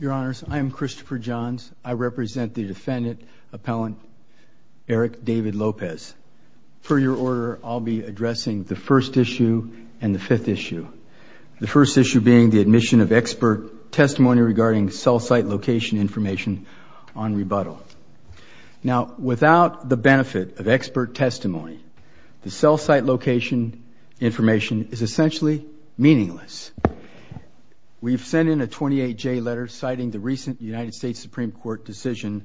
Your Honors, I am Christopher Johns. I represent the defendant appellant Eric David Lopez. For your order, I'll be addressing the first issue and the fifth issue. The first issue being the admission of expert testimony regarding cell site location information on rebuttal. Now, without the benefit of expert testimony, the cell site location information is essentially meaningless. We've sent in a 28-J letter citing the recent United States Supreme Court decision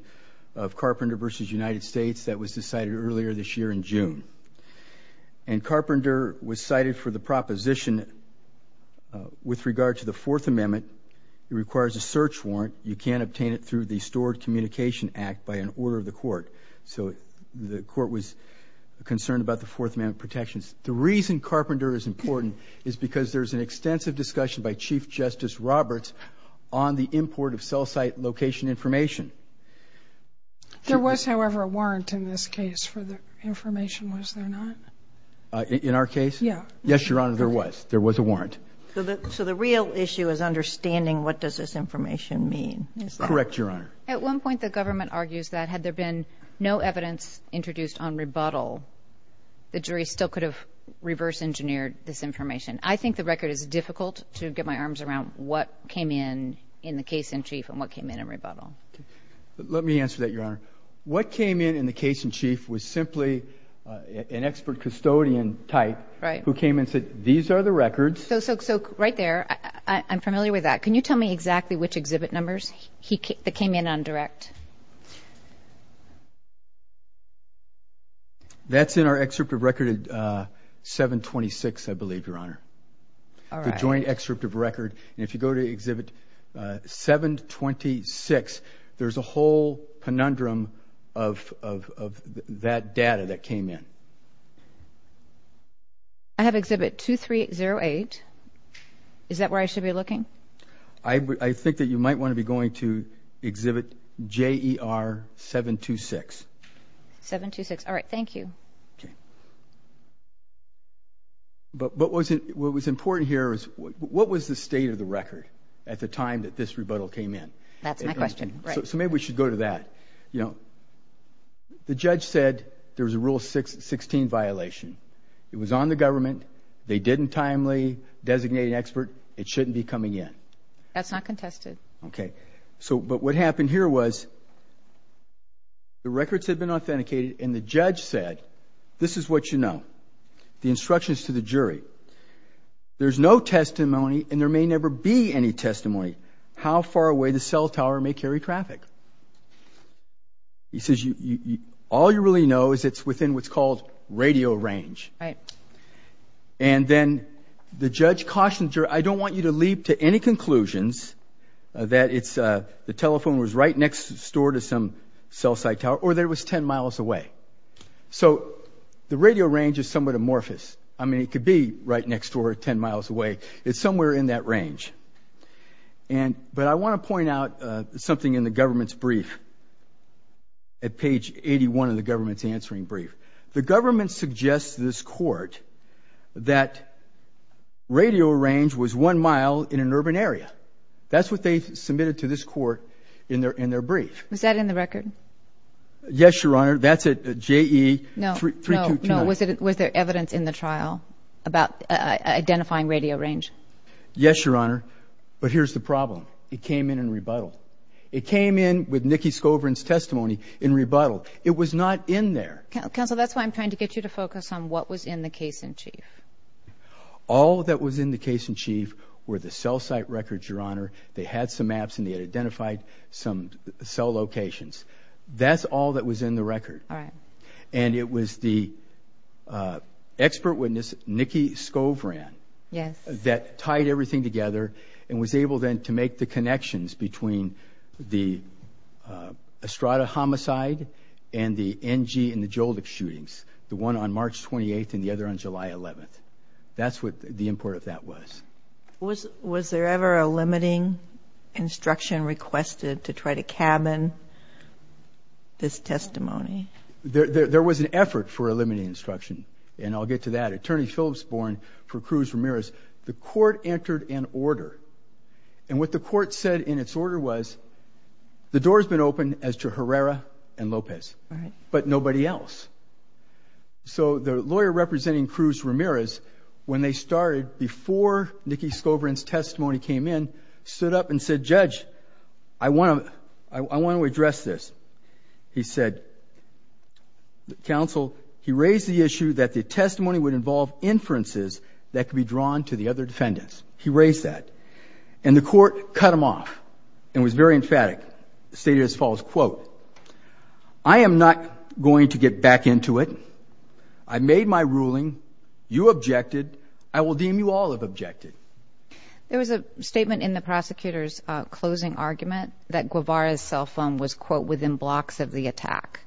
of Carpenter v. United States that was decided earlier this year in June. And Carpenter was cited for the proposition with regard to the Fourth Amendment. It requires a search warrant. You can't obtain it through the Stored Communication Act by an order of the court. So the court was concerned about the Fourth Amendment protections. The reason Carpenter is important is because there's an extensive discussion by Chief Justice Roberts on the import of cell site location information. There was, however, a warrant in this case for the information, was there not? In our case? Yeah. Yes, Your Honor, there was. There was a warrant. So the real issue is understanding what does this information mean? Correct, Your Honor. At one point the government argues that had there been no evidence introduced on rebuttal, the jury still could have reverse-engineered this information. I think the record is difficult to get my arms around what came in in the case in chief and what came in in rebuttal. Let me answer that, Your Honor. What came in in the case in chief was simply an expert custodian type who came and said, these are the records. So right there, I'm familiar with that. Can you tell me exactly which exhibit numbers that came in on direct? That's in our excerpt of record 726, I believe, Your Honor, the joint excerpt of record. If you go to exhibit 726, there's a whole conundrum of that data that came in. I have exhibit 2308. Is that where I should be looking? I think that you might want to be going to exhibit JER 726. 726, all right. Thank you. But what was important here is what was the state of the record at the time that this rebuttal came in? That's my question. So maybe we should go to that. You know, the judge said there was a Rule 16 violation. It was on the government. They didn't timely designate an expert. It shouldn't be coming in. That's not contested. Okay, so but what happened here was the records had been authenticated and the judge said, this is what you know. The instructions to the jury. There's no testimony and there may never be any testimony how far away the cell tower may carry traffic. He says, all you really know is it's within what's called radio range. And then the judge cautions, I don't want you to leap to any conclusions that it's the telephone was right next to store to some cell site tower or there was 10 miles away. So the radio range is somewhat amorphous. I mean it could be right next door 10 miles away. It's somewhere in that range. And but I want to point out something in the government's brief at page 81 of the government's answering brief. The in an urban area. That's what they submitted to this court in their in their brief. Was that in the record? Yes, Your Honor. That's a JE 3229. Was there evidence in the trial about identifying radio range? Yes, Your Honor, but here's the problem. It came in in rebuttal. It came in with Nikki Scoverin's testimony in rebuttal. It was not in there. Counselor, that's why I'm trying to get you to focus on what was in the case-in-chief. All that was in the case-in-chief were the cell site records, Your Honor. They had some maps and they had identified some cell locations. That's all that was in the record. And it was the expert witness Nikki Scoverin that tied everything together and was able then to make the connections between the Estrada homicide and the NG and the Joldik shootings. The one on there on July 11th. That's what the import of that was. Was there ever a limiting instruction requested to try to cabin this testimony? There was an effort for a limiting instruction and I'll get to that. Attorney Phillips Bourne for Cruz Ramirez. The court entered an order and what the court said in its order was the door has been opened as to Herrera and Lopez but nobody else. So the lawyer representing Cruz Ramirez, when they started, before Nikki Scoverin's testimony came in, stood up and said, Judge, I want to address this. He said, Counsel, he raised the issue that the testimony would involve inferences that could be drawn to the other defendants. He raised that. And the court cut him off and was very emphatic, stated as follows, quote, I am not going to get back into it. I made my ruling. You objected. I will deem you all as objected. There was a statement in the prosecutor's closing argument that Guevara's cell phone was, quote, within blocks of the attack.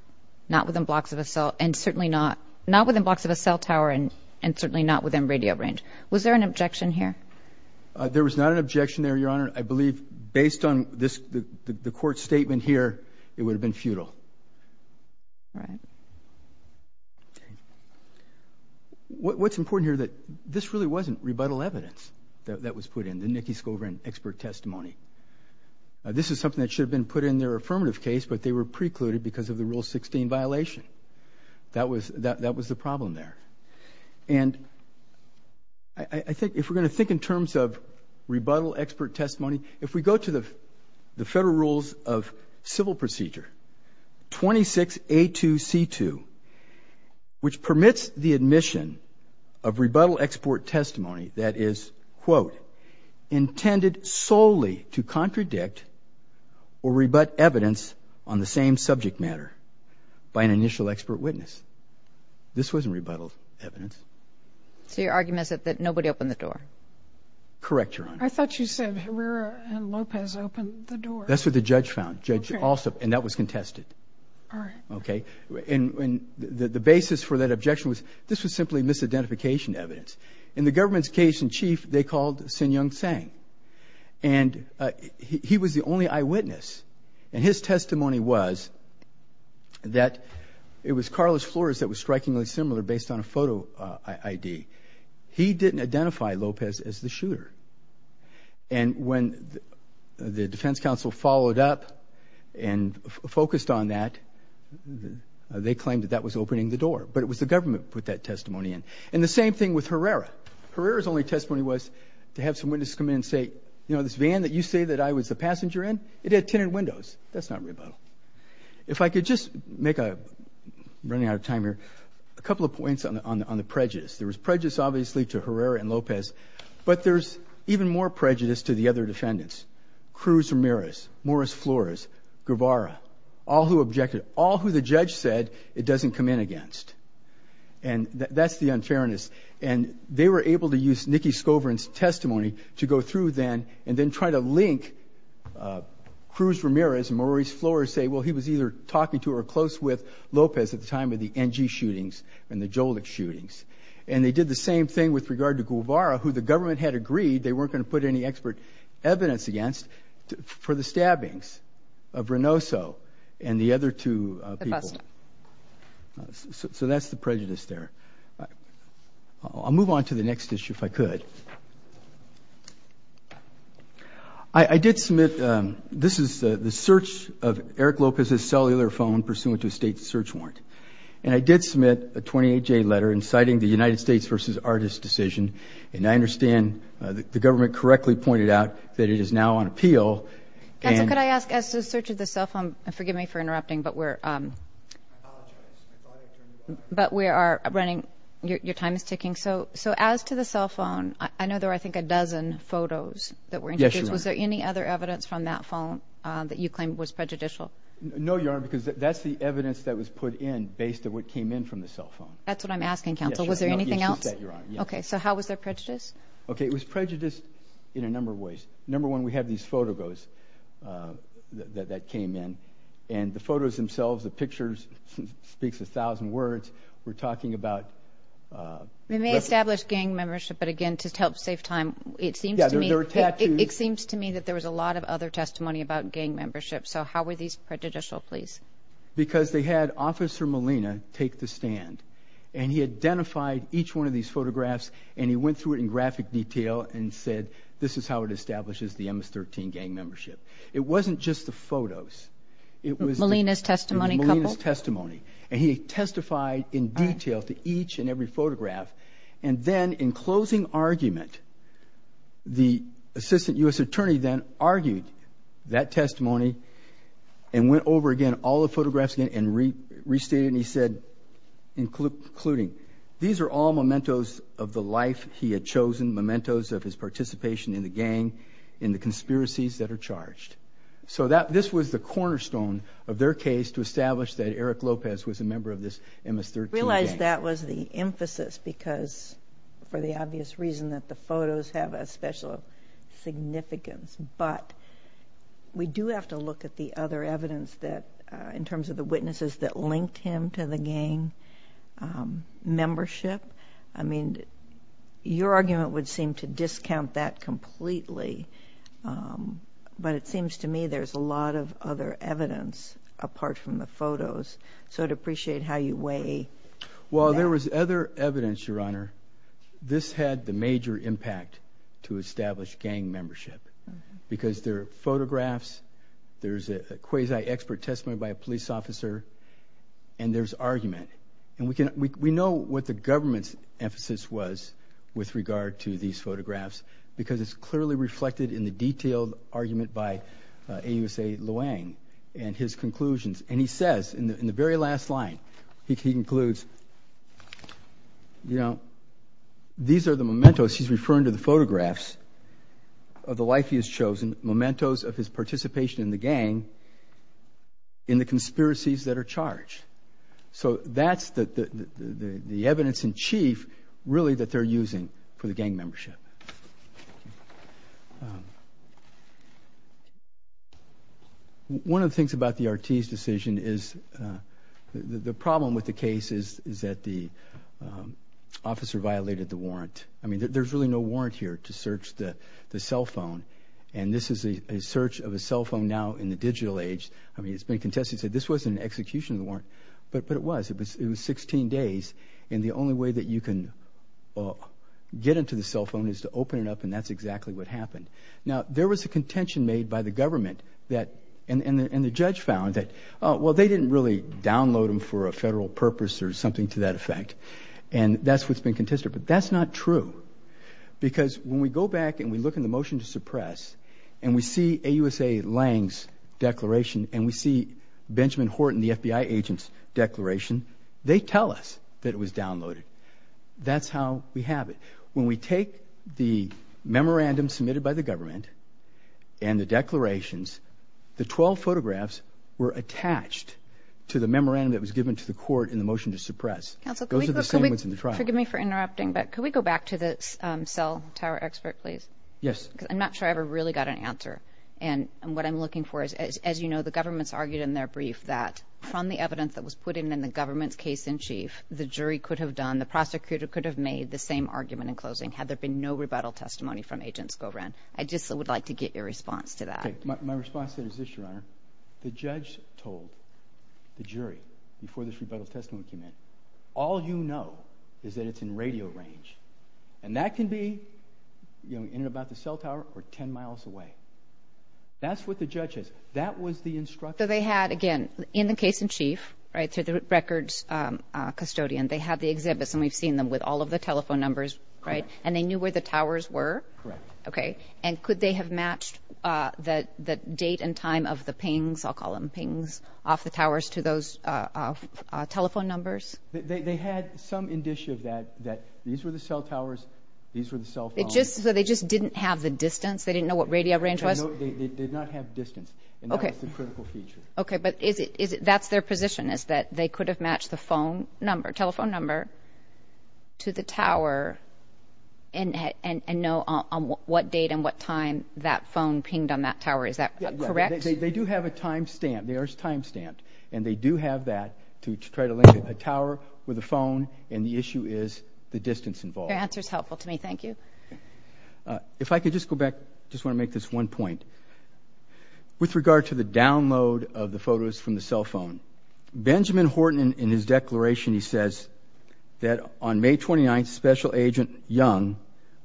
Not within blocks of a cell and certainly not, not within blocks of a cell tower and certainly not within radio range. Was there an objection here? There was not an objection there, Your Honor. I believe based on this, the court statement here, it would have been futile. What's important here that this really wasn't rebuttal evidence that was put in, the Nikki Scoverin expert testimony. This is something that should have been put in their affirmative case but they were precluded because of the Rule 16 violation. That was, that was the problem there. And I think, if we're going to think in terms of rebuttal expert testimony, if we go to the Federal Rules of Civil Procedure 26A2C2, which permits the admission of rebuttal export testimony that is, quote, intended solely to contradict or rebut evidence on the same subject matter by an initial expert witness. This wasn't rebuttal evidence. So your argument is that nobody opened the door? Correct, Your Honor. I thought you said Herrera and Lopez opened the door. That's what the judge found, Judge Alsop, and that was contested. Okay, and the basis for that objection was this was simply misidentification evidence. In the government's case in chief, they called Sun Yung Tsang and he was the only eyewitness and his testimony was that it was Carlos Flores that was strikingly the shooter. And when the Defense Council followed up and focused on that, they claimed that that was opening the door, but it was the government put that testimony in. And the same thing with Herrera. Herrera's only testimony was to have some witnesses come in and say, you know, this van that you say that I was a passenger in, it had tinted windows. That's not rebuttal. If I could just make a, running out of time here, a couple of points on the prejudice. There was but there's even more prejudice to the other defendants. Cruz Ramirez, Morris Flores, Guevara, all who objected, all who the judge said it doesn't come in against. And that's the unfairness. And they were able to use Nikki Scovern's testimony to go through then and then try to link Cruz Ramirez and Maurice Flores say, well he was either talking to or close with Lopez at the time of the NG shootings and the Jolik shootings. And they did the same thing with regard to they had agreed they weren't going to put any expert evidence against for the stabbings of Reynoso and the other two people. So that's the prejudice there. I'll move on to the next issue if I could. I did submit, this is the search of Eric Lopez's cellular phone pursuant to a state search warrant. And I did submit a 28-J letter inciting the United States versus artists decision. And I understand the government correctly pointed out that it is now on appeal. Could I ask, as to the search of the cell phone, forgive me for interrupting, but we're but we are running, your time is ticking. So as to the cell phone, I know there were I think a dozen photos that were, was there any other evidence from that phone that you claim was prejudicial? No, Your Honor, because that's the evidence that was put in based on what came in from the cell phone. That's what I'm asking counsel, was there anything else? Okay, so how was there prejudice? Okay, it was prejudice in a number of ways. Number one, we have these photographs that came in. And the photos themselves, the pictures, speaks a thousand words. We're talking about... And they established gang membership, but again to help save time. It seems to me that there was a lot of other testimony about gang membership. So how were these prejudicial, please? Because they had Officer Molina take the stand. And he identified each one of these photographs and he went through it in graphic detail and said, this is how it establishes the MS-13 gang membership. It wasn't just the photos. It was Molina's testimony? Molina's testimony. And he testified in detail to each and every photograph. And then in closing argument, the Assistant U.S. Attorney then argued that testimony and went over again all the photographs and restated and he said, including these are all mementos of the life he had chosen, mementos of his participation in the gang, in the conspiracies that are charged. So this was the cornerstone of their case to establish that Eric Lopez was a member of this MS-13 gang. I realize that was the emphasis because for the obvious reason that the photos have a special significance. But we do have to look at the other evidence that in terms of the witnesses that linked him to the gang membership. I mean your argument would seem to discount that completely. But it seems to me there's a lot of other evidence apart from the photos. So I'd appreciate how you weigh. Well there was other evidence, Your Honor. This had the major impact to establish gang membership. Because there are photographs, there's a quasi expert testimony by a police officer, and there's argument. And we know what the government's emphasis was with regard to these photographs because it's clearly reflected in the detailed argument by AUSA Luang and his conclusions. And he says in the very last line, he concludes, you know, these are the mementos, he's referring to the photographs, of the life he has chosen, mementos of his participation in the gang, in the conspiracies that are charged. So that's the evidence in chief really that they're using for the gang membership. One of the things about the Ortiz decision is the problem with the case is that the officer violated the warrant. I mean there's really no warrant here to search the cell phone. And this is a search of a cell phone now in the digital age. I mean it's been contested. This wasn't an execution warrant, but it was. It was 16 days and the only way that you can get into the cell phone is to open it up and that's exactly what happened. Now there was a contention made by the government that, and the judge found that, well they didn't really download them for a federal purpose or something to that effect. And that's what's been contested. But that's not true because when we go back and we look in the motion to suppress and we see AUSA Lang's declaration and we see Benjamin Horton, the FBI agent's declaration, they tell us that it was downloaded. That's how we have it. When we take the memorandum submitted by the government and the declarations, the 12 photographs were attached to the memorandum that was given to the court in the motion to suppress. Those are the 12 photographs that were attached to the memorandum that was given to the court in the motion to suppress. So that's how we have it. Thank you for interrupting, but could we go back to the cell tower expert, please? Yes. I'm not sure I ever really got an answer and what I'm looking for is, as you know, the government's argued in their brief that from the evidence that was put in in the government's case-in-chief, the jury could have done, the prosecutor could have made the same argument in closing had there been no rebuttal testimony from Agent Skowron. I just would like to get your response to that. My response is this, Your Honor. The judge told the jury before this rebuttal testimony came in, all you know is that it's in radio range and that can be, you know, in and about the cell tower or 10 miles away. That's what the judge said. That was the instruction. So they had, again, in the case-in-chief, right, to the records custodian, they have the exhibits and we've seen them with all of the telephone numbers, right, and they knew where the towers were? Correct. Okay, and could they have matched the date and time of the pings, I'll call them pings, off the towers to those telephone numbers? They had some indicia that these were the cell towers, these were the cell phones. So they just didn't have the distance? They didn't know what radio range was? They did not have distance and that was the critical feature. Okay, but that's their position is that they could have matched the phone number, telephone number, to the tower and know on what date and what time that phone pinged on that tower, is that correct? They do have a time stamp, there's a time stamp, and they do have that to try to link the tower with the phone and the issue is the distance involved. The answer's helpful to me, thank you. If I could just go back, just want to make this one point. With regard to the download of the photos from the cell phone, Benjamin Horton in his declaration, he says that on May 29th, Special Agent Young,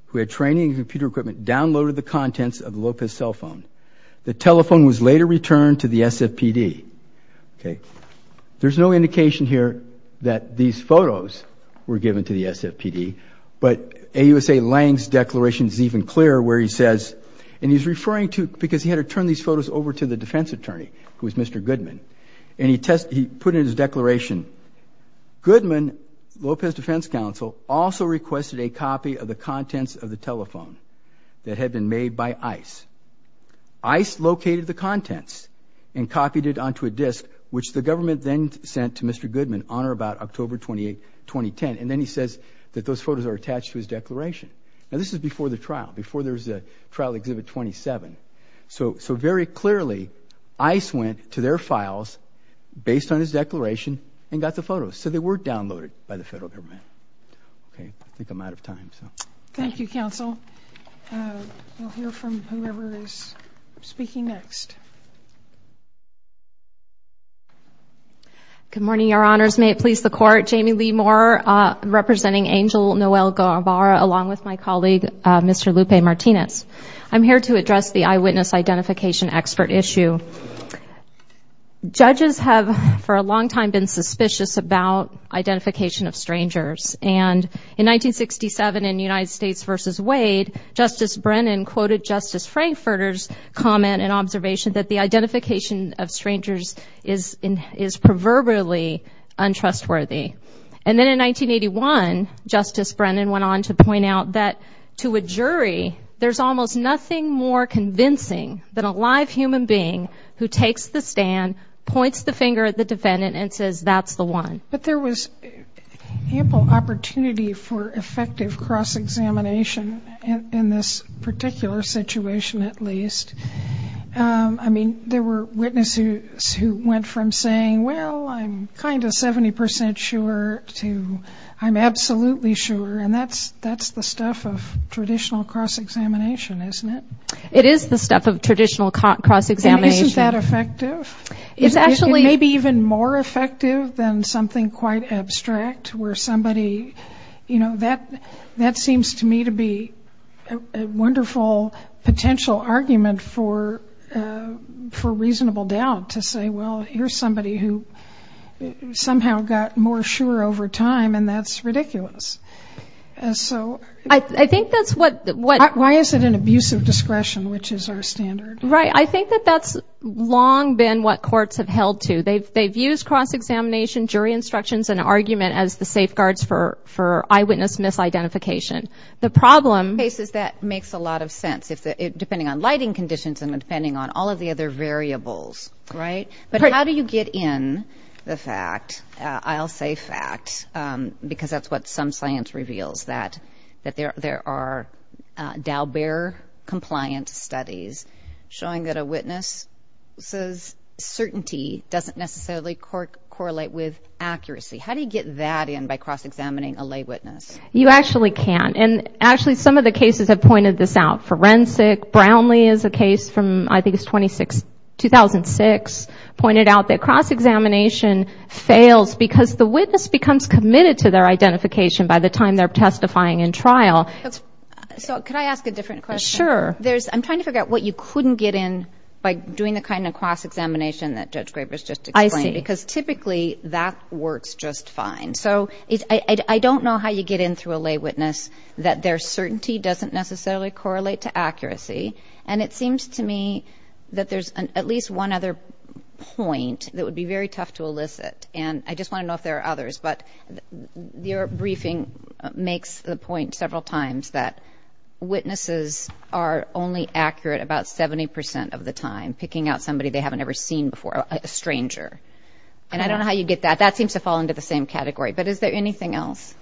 who had training and computer equipment, downloaded the contents of the Lopez cell phone. The telephone was later returned to the SFPD. There's no indication here that these photos were given to the SFPD, but AUSA Lang's declaration is even clearer where he says, and he's referring to, because he had to turn these photos over to the defense attorney, who was Mr. Goodman, and he put in his declaration, Goodman, Lopez contents of the telephone that had been made by ICE. ICE located the contents and copied it onto a disk, which the government then sent to Mr. Goodman on or about October 28th, 2010, and then he says that those photos are attached to his declaration. Now this is before the trial, before there's the trial exhibit 27. So very clearly, ICE went to their files based on his declaration and got the photos. So they were downloaded by the federal government. I think I'm out of time. Thank you, counsel. We'll hear from whoever is speaking next. Good morning, your honors. May it please the court, Jamie Lee Moore, representing Angel Noel Guevara, along with my colleague, Mr. Lupe Martinez. I'm here to address the eyewitness identification expert issue. Judges have for a long time been suspicious about identification of strangers. And in 1967 in United States v. Wade, Justice Brennan quoted Justice Frankfurter's comment and observation that the identification of strangers is proverbially untrustworthy. And then in 1981, Justice Brennan went on to point out that to a jury, there's almost nothing more convincing than a live human being who takes the stand, points the finger at the defendant, and says, that's the one. But there was ample opportunity for effective cross-examination in this particular situation, at least. I mean, there were witnesses who went from saying, well, I'm kind of 70% sure to I'm absolutely sure. And that's the stuff of traditional cross-examination, isn't it? It is the stuff of traditional cross-examination. Isn't that effective? It may be even more effective than something quite abstract where somebody, you know, that seems to me to be a wonderful potential argument for reasonable doubt, to say, well, here's somebody who somehow got more sure over time, and that's ridiculous. I think that's what... Why is it an abuse of discretion, which is our standard? Right. I think that that's long been what courts have held to. They've used cross-examination, jury instructions, and argument as the safeguards for eyewitness misidentification. The problem... That makes a lot of sense, depending on lighting conditions and depending on all of the other variables, right? But how do you get in the fact? I'll say fact, because that's what some science reveals, that there are Dalbert-compliant studies showing that a witness's certainty doesn't necessarily correlate with accuracy. How do you get that in by cross-examining a lay witness? You actually can. And actually, some of the cases have pointed this out. Forensic, Brownlee is a case from, I think it's 2006, pointed out that cross-examination fails because the witness becomes committed to their identification by the time they're testifying in trial. So could I ask a different question? Sure. I'm trying to figure out what you couldn't get in by doing the kind of cross-examination that Judge Graves just explained. I see. Because typically, that works just fine. So I don't know how you get in through a lay witness that their certainty doesn't necessarily correlate to accuracy. And it seems to me that there's at least one other point that would be very tough to elicit. And I just want to know if there are others. But your briefing makes the point several times that witnesses are only accurate about 70% of the time, picking out somebody they haven't ever seen before, a stranger. And I don't know how you get that. That seems to fall into the same category. But is there anything else?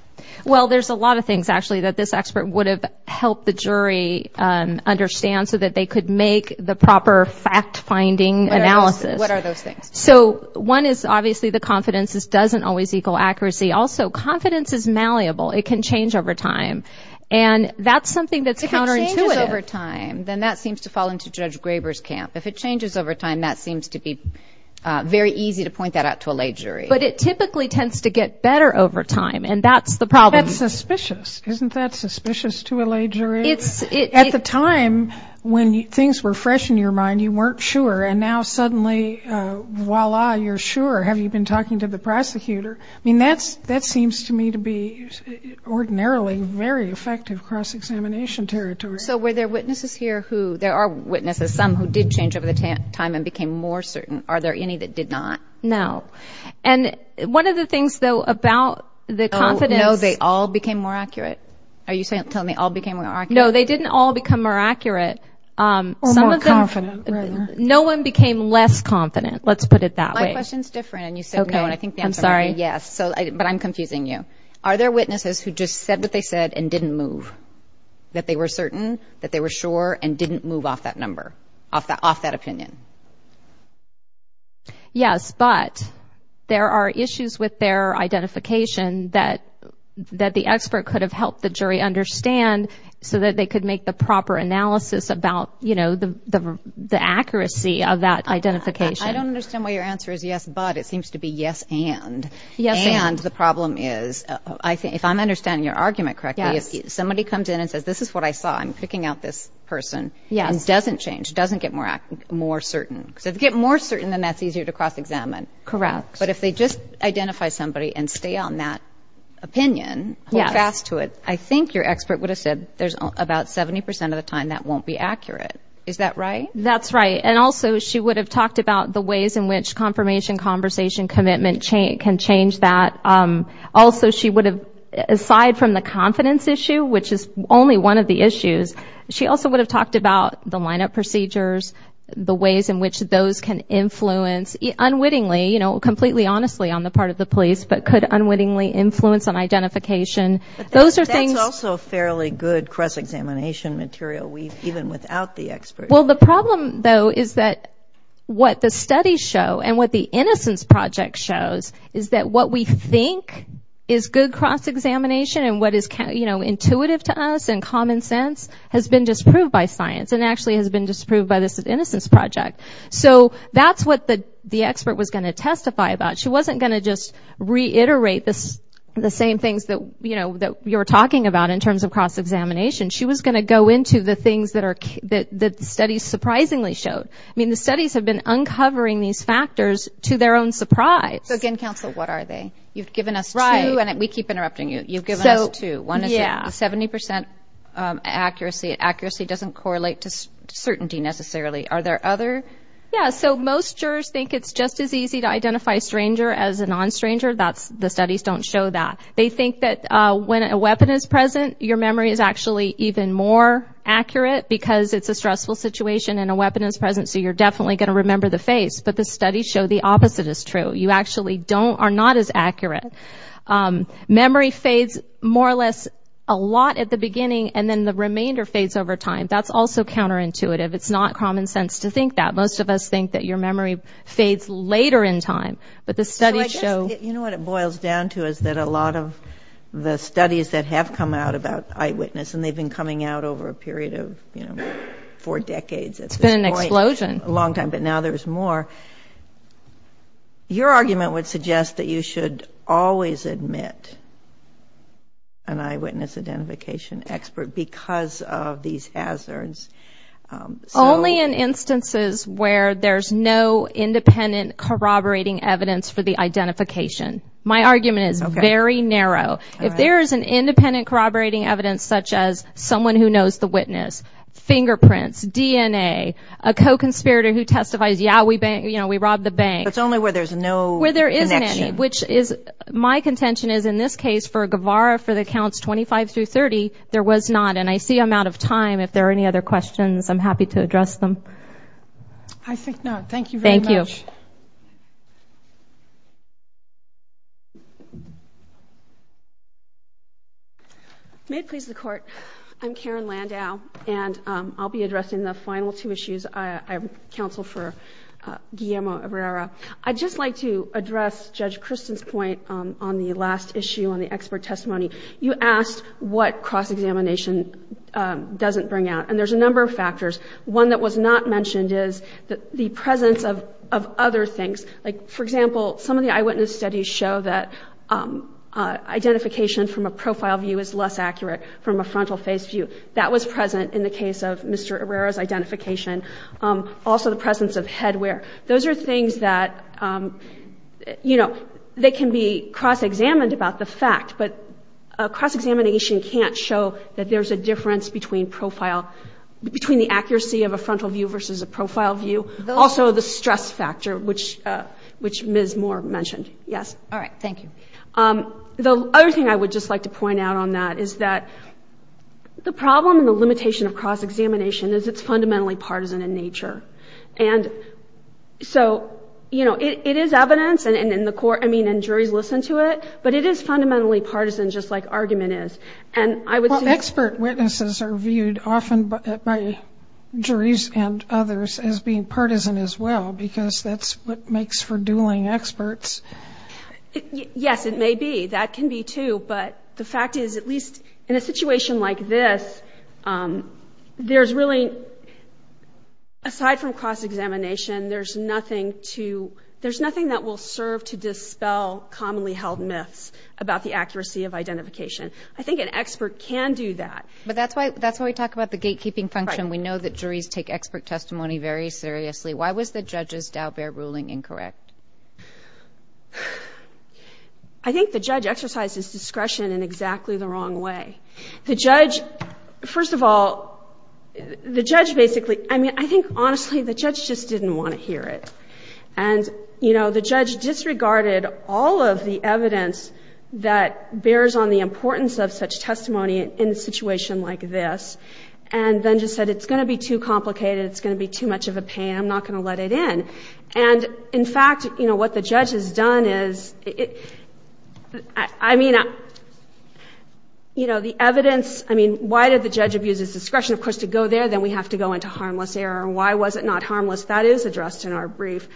Well, there's a lot of things, actually, that this expert would have helped the jury understand so that they could make the proper fact-finding analysis. What are those things? So one is obviously the confidence. This doesn't always equal accuracy. Also, confidence is malleable. It can change over time. And that's something that's counterintuitive. If it changes over time, then that seems to fall into Judge Graber's camp. If it changes over time, that seems to be very easy to point that out to a lay jury. But it typically tends to get better over time, and that's the problem. That's suspicious. Isn't that suspicious to a lay jury? At the time, when things were fresh in your mind, you weren't sure, and now suddenly, voila, you're sure. Have you been talking to the prosecutor? I mean, that seems to me to be ordinarily very effective cross-examination territory. So were there witnesses here who ñ there are witnesses, some who did change over time and became more certain. Are there any that did not? No. And one of the things, though, about the confidence ñ Oh, no, they all became more accurate. Are you telling me all became more accurate? No, they didn't all become more accurate. Or more confident. No one became less confident. Let's put it that way. My question's different, and you said no, and I think the answer is yes. But I'm confusing you. Are there witnesses who just said what they said and didn't move, that they were certain, that they were sure, and didn't move off that number, off that opinion? Yes, but there are issues with their identification that the expert could have helped the jury understand so that they could make the proper analysis about, you know, the accuracy of that identification. I don't understand why your answer is yes, but. It seems to be yes, and. And the problem is, if I'm understanding your argument correctly, if somebody comes in and says, this is what I saw, I'm picking out this person, it doesn't change. It doesn't get more certain. If it gets more certain, then that's easier to cross-examine. Correct. But if they just identify somebody and stay on that opinion, hold fast to it, I think your expert would have said there's about 70 percent of the time that won't be accurate. Is that right? That's right. And also, she would have talked about the ways in which confirmation conversation commitment can change that. Also, she would have, aside from the confidence issue, which is only one of the issues, she also would have talked about the lineup procedures, the ways in which those can influence, unwittingly, you know, completely honestly on the part of the police, but could unwittingly influence an identification. That's also fairly good cross-examination material, even without the expert. Well, the problem, though, is that what the studies show and what the Innocence Project shows is that what we think is good cross-examination and what is, you know, intuitive to us and common sense has been disproved by science and actually has been disproved by this Innocence Project. So that's what the expert was going to testify about. She wasn't going to just reiterate the same things that, you know, that you were talking about in terms of cross-examination. She was going to go into the things that the studies surprisingly showed. I mean, the studies have been uncovering these factors to their own surprise. So, again, counsel, what are they? You've given us two, and we keep interrupting you. You've given us two. One is 70% accuracy. Accuracy doesn't correlate to certainty, necessarily. Are there other? Yeah, so most jurors think it's just as easy to identify a stranger as a non-stranger. The studies don't show that. They think that when a weapon is present, your memory is actually even more accurate because it's a stressful situation and a weapon is present, so you're definitely going to remember the phase. But the studies show the opposite is true. You actually are not as accurate. Memory fades more or less a lot at the beginning and then the remainder fades over time. That's also counterintuitive. It's not common sense to think that. Most of us think that your memory fades later in time, but the studies show. You know what it boils down to is that a lot of the studies that have come out about eyewitness, and they've been coming out over a period of, you know, four decades at this point. It's been an explosion. A long time, but now there's more. Your argument would suggest that you should always admit an eyewitness identification expert because of these hazards. Only in instances where there's no independent corroborating evidence for the identification. My argument is very narrow. If there is an independent corroborating evidence such as someone who knows the witness, fingerprints, DNA, a co-conspirator who testifies, yeah, we robbed the bank. It's only where there's no connection. My contention is in this case for Guevara, for the counts 25 through 30, there was not. And I see I'm out of time. If there are any other questions, I'm happy to address them. I think not. Thank you very much. Thank you. May it please the Court. I'm Karen Landau, and I'll be addressing the final two issues. I'm counsel for Guillermo Herrera. I'd just like to address Judge Christen's point on the last issue on the expert testimony. You asked what cross-examination doesn't bring out, and there's a number of factors. One that was not mentioned is the presence of other things. For example, some of the eyewitness studies show that identification from a profile view is less accurate from a frontal face view. That was present in the case of Mr. Herrera's identification. Also the presence of headwear. Those are things that can be cross-examined about the fact, but cross-examination can't show that there's a difference between the accuracy of a frontal view versus a profile view. Also the stress factor, which Ms. Moore mentioned. Yes. All right. Thank you. The other thing I would just like to point out on that is that the problem and the limitation of cross-examination is it's fundamentally partisan in nature. It is evidence, and jury listened to it, but it is fundamentally partisan just like argument is. Expert witnesses are viewed often by juries and others as being partisan as well because that's what makes for dueling experts. Yes, it may be. That can be too, but the fact is, at least in a situation like this, there's really, aside from cross-examination, there's nothing that will serve to dispel commonly held myths about the accuracy of identification. I think an expert can do that. But that's why we talk about the gatekeeping function. We know that juries take expert testimony very seriously. Why was the judge's Dalbert ruling incorrect? I think the judge exercised his discretion in exactly the wrong way. First of all, I think, honestly, the judge just didn't want to hear it. The judge disregarded all of the evidence that bears on the importance of such testimony in a situation like this and then just said it's going to be too complicated, it's going to be too much of a pain, I'm not going to let it in. In fact, what the judge has done is, I mean, the evidence, why did the judge abuse his discretion? Of course, to go there, then we have to go into harmless error. Why was it not harmless? That is addressed in our brief.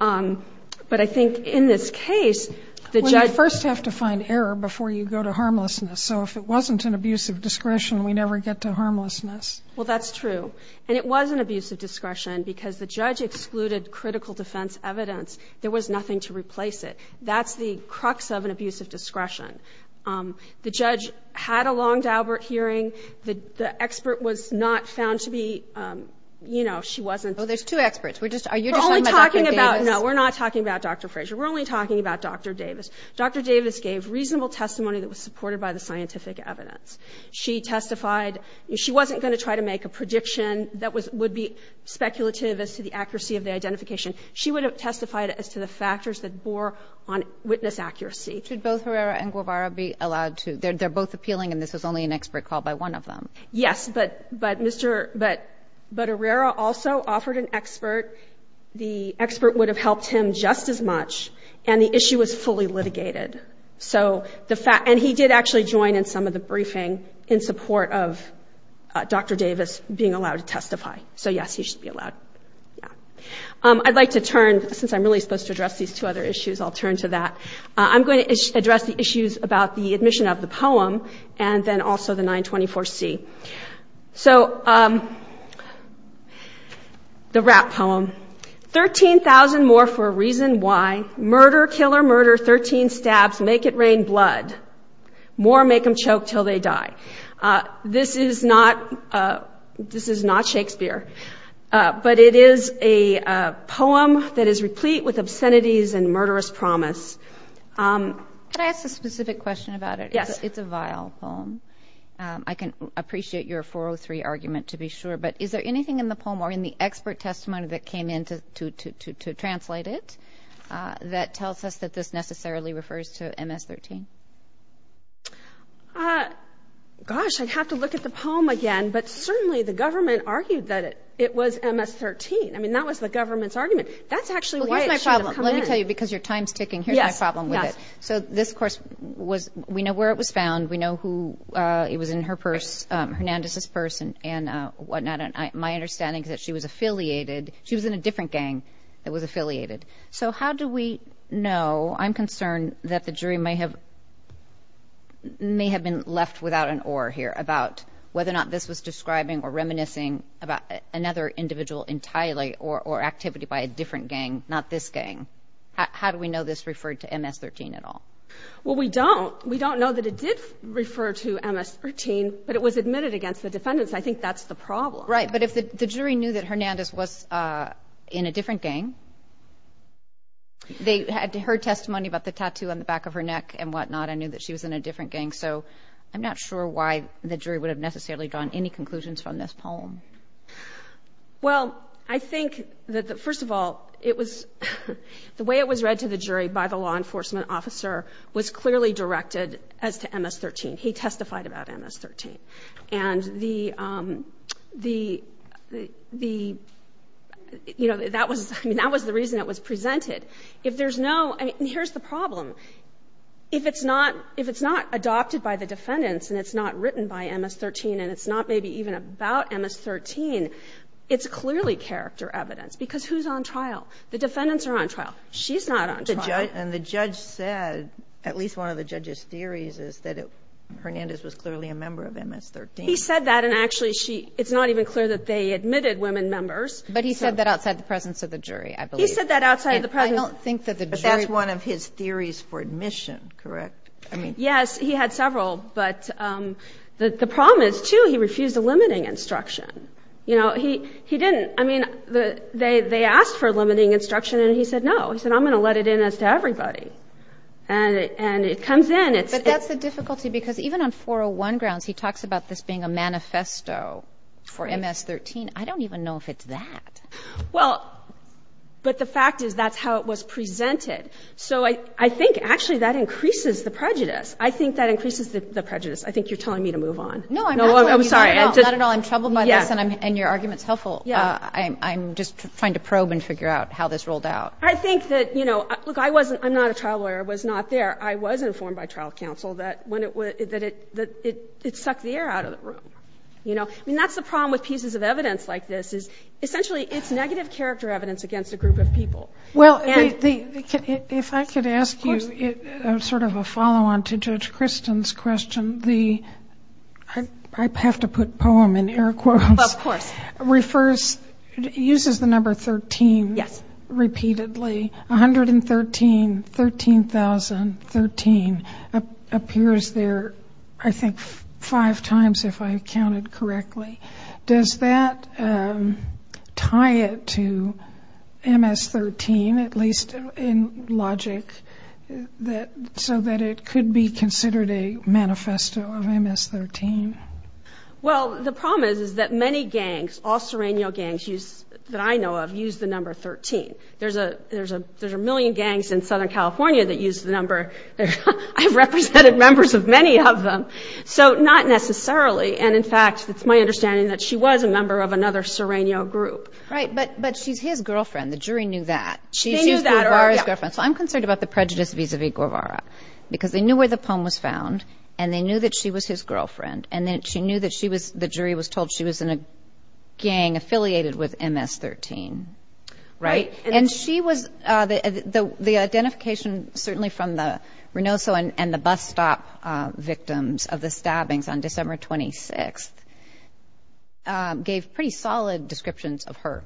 But I think in this case, the judge- Well, you first have to find error before you go to harmlessness. So if it wasn't an abuse of discretion, we never get to harmlessness. Well, that's true. And it was an abuse of discretion because the judge excluded critical defense evidence. There was nothing to replace it. That's the crux of an abuse of discretion. The judge had a long Dalbert hearing. The expert was not found to be, you know, she wasn't- Well, there's two experts. We're just- We're only talking about- No, we're not talking about Dr. Frazier. We're only talking about Dr. Davis. Dr. Davis gave reasonable testimony that was supported by the scientific evidence. She testified- She wasn't going to try to make a prediction that would be speculative as to the accuracy of the identification. She would have testified as to the factors that bore on witness accuracy. Should both Herrera and Guevara be allowed to- They're both appealing, and this was only an expert call by one of them. Yes, but Herrera also offered an expert. The expert would have helped him just as much, and the issue was fully litigated. And he did actually join in some of the briefing in support of Dr. Davis being allowed to testify. So, yes, he should be allowed. I'd like to turn- Since I'm really supposed to address these two other issues, I'll turn to that. I'm going to address the issues about the admission of the poem and then also the 924C. So, the rap poem. 13,000 more for a reason why. Murder, killer, murder, 13 stabs, make it rain blood. More make them choke till they die. This is not Shakespeare, but it is a poem that is replete with obscenities and murderous promise. Can I ask a specific question about it? Yes. It's a vile poem. I can appreciate your 403 argument, to be sure, but is there anything in the poem or in the expert testimony that came in to translate it that tells us that this necessarily refers to MS-13? Gosh, I'd have to look at the poem again, but certainly the government argued that it was MS-13. I mean, that was the government's argument. That's actually why it should have come in. Let me tell you, because your time's ticking, here's my problem with it. Yes, yes. So, this, of course, we know where it was found. We know who it was in her purse, Hernandez's purse and whatnot. My understanding is that she was affiliated. She was in a different gang that was affiliated. So, how do we know? I'm concerned that the jury may have been left without an oar here about whether or not this is describing or reminiscing about another individual entirely or activity by a different gang, not this gang. How do we know this referred to MS-13 at all? Well, we don't. We don't know that it did refer to MS-13, but it was admitted against the defendants, and I think that's the problem. Right, but if the jury knew that Hernandez was in a different gang, they had heard testimony about the tattoo on the back of her neck and whatnot and knew that she was in a different gang. So, I'm not sure why the jury would have necessarily drawn any conclusions from this poem. Well, I think that, first of all, the way it was read to the jury by the law enforcement officer was clearly directed as to MS-13. He testified about MS-13. And, you know, that was the reason it was presented. If there's no – and here's the problem. If it's not adopted by the defendants and it's not written by MS-13 and it's not maybe even about MS-13, it's clearly character evidence, because who's on trial? The defendants are on trial. She's not on trial. And the judge said, at least one of the judge's theories, is that Hernandez was clearly a member of MS-13. He said that, and actually it's not even clear that they admitted women members. But he said that outside the presence of the jury, I believe. He said that outside the presence of the jury. But that's one of his theories for admission, correct? Yes, he had several. But the problem is, too, he refused a limiting instruction. You know, he didn't. I mean, they asked for a limiting instruction, and he said no. He said, I'm going to let it in as to everybody. And it comes in. But that's a difficulty, because even on 401 grounds, he talks about this being a manifesto for MS-13. I don't even know if it's that. Well, but the fact is that's how it was presented. So I think, actually, that increases the prejudice. I think that increases the prejudice. I think you're telling me to move on. No, I'm sorry. Not at all. I'm troubled myself, and your argument's helpful. I'm just trying to probe and figure out how this rolled out. I think that, you know, look, I'm not a trial lawyer. I was not there. I was informed by trial counsel that it sucked the air out of the room. You know, and that's the problem with pieces of evidence like this, is essentially it's negative character evidence against a group of people. Well, if I could ask you sort of a follow-on to Judge Kristen's question. I have to put poem in air quotes. Of course. It uses the number 13 repeatedly. 113, 13,013 appears there, I think, five times if I counted correctly. Does that tie it to MS-13, at least in logic, so that it could be considered a manifesto of MS-13? Well, the problem is that many gangs, all serrano gangs that I know of, use the number 13. There's a million gangs in Southern California that use the number. I've represented members of many of them, so not necessarily. And, in fact, it's my understanding that she was a member of another serrano group. Right, but she's his girlfriend. The jury knew that. They knew that. So I'm concerned about the prejudice vis-a-vis Guevara, because they knew where the poem was found, and they knew that she was his girlfriend, and then she knew that the jury was told she was in a gang affiliated with MS-13. Right. And she was the identification, certainly from the Reynoso and the bus stop victims of the stabbings on December 26th, gave pretty solid descriptions of her,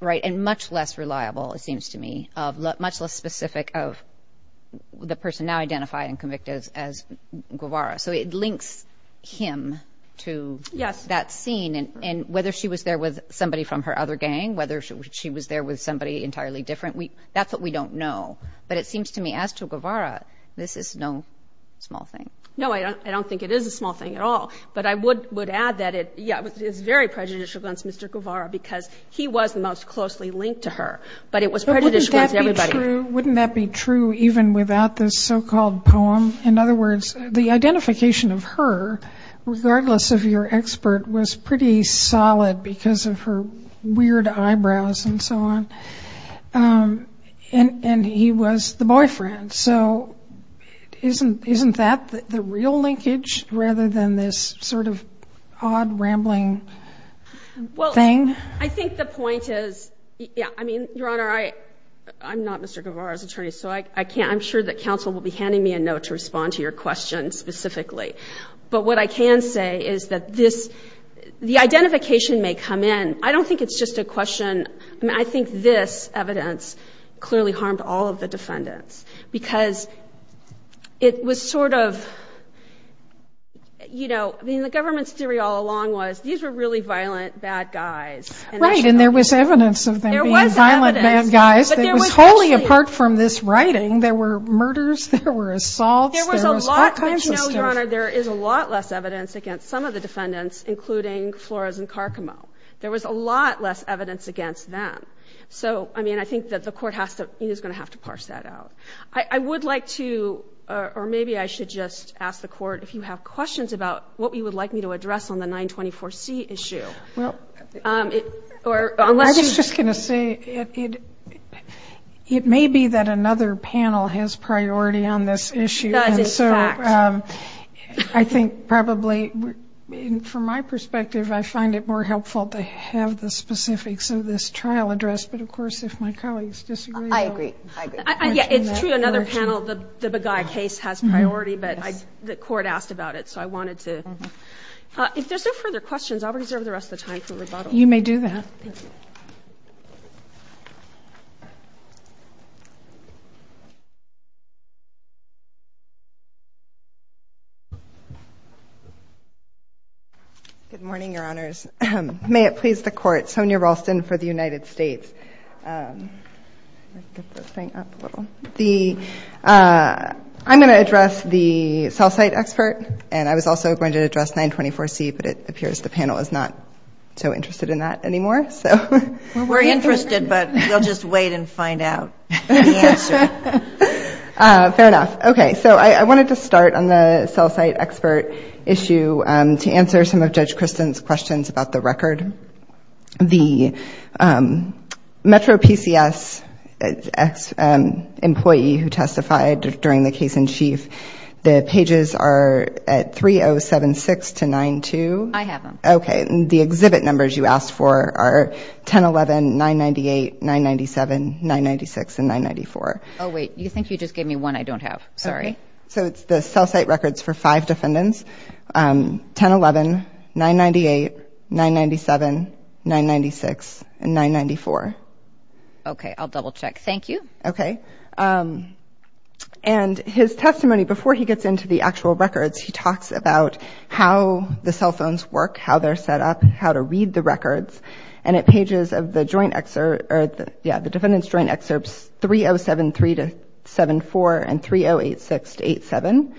right, and much less reliable, it seems to me, much less specific of the person now identified and convicted as Guevara. So it links him to that scene. And whether she was there with somebody from her other gang, whether she was there with somebody entirely different, that's what we don't know. But it seems to me, as to Guevara, this is no small thing. No, I don't think it is a small thing at all. But I would add that it's very prejudicial against Mr Guevara because he was most closely linked to her. But it was prejudicial against everybody. Wouldn't that be true even without this so-called poem? In other words, the identification of her, regardless of your expert, was pretty solid because of her weird eyebrows and so on. And he was the boyfriend. So isn't that the real linkage rather than this sort of odd rambling thing? I think the point is, I mean, Your Honor, I'm not Mr Guevara's attorney, so I'm sure that counsel will be handing me a note to respond to your question specifically. But what I can say is that the identification may come in. I don't think it's just a question. I think this evidence clearly harmed all of the defendants because it was sort of, you know, I mean, the government's theory all along was these were really violent bad guys. Right, and there was evidence of them being violent bad guys. Totally apart from this writing, there were murders, there were assaults. There is a lot less evidence against some of the defendants, including Flores and Carcamo. There was a lot less evidence against them. So, I mean, I think that the Court is going to have to parse that out. I would like to, or maybe I should just ask the Court, if you have questions about what you would like me to address on the 924C issue. I was just going to say it may be that another panel has priority on this issue. That is correct. I think probably, from my perspective, I find it more helpful to have the specifics of this trial addressed. But, of course, if my colleagues disagree. I agree. It's true, another panel, the Beguy case has priority, but the Court asked about it. So, I wanted to. If there are no further questions, I'll reserve the rest of the time for rebuttal. You may do that. Good morning, Your Honors. May it please the Court, Sonia Ralston for the United States. I'm going to address the cell site expert, and I was also going to address 924C, but it appears the panel is not so interested in that anymore. We're interested, but we'll just wait and find out the answer. Fair enough. Okay, so I wanted to start on the cell site expert issue to answer some of Judge Christin's questions about the record. The Metro PCS employee who testified during the case in chief, the pages are at 3076-92. I have them. Okay, and the exhibit numbers you asked for are 1011, 998, 997, 996, and 994. Oh, wait, you think you just gave me one I don't have. Sorry. So, it's the cell site records for five defendants. 1011, 998, 997, 996, and 994. Okay, I'll double check. Thank you. Okay. And his testimony, before he gets into the actual records, he talks about how the cell phones work, how they're set up, how to read the records. And at pages of the defendant's joint excerpts 3073-74 and 3086-87,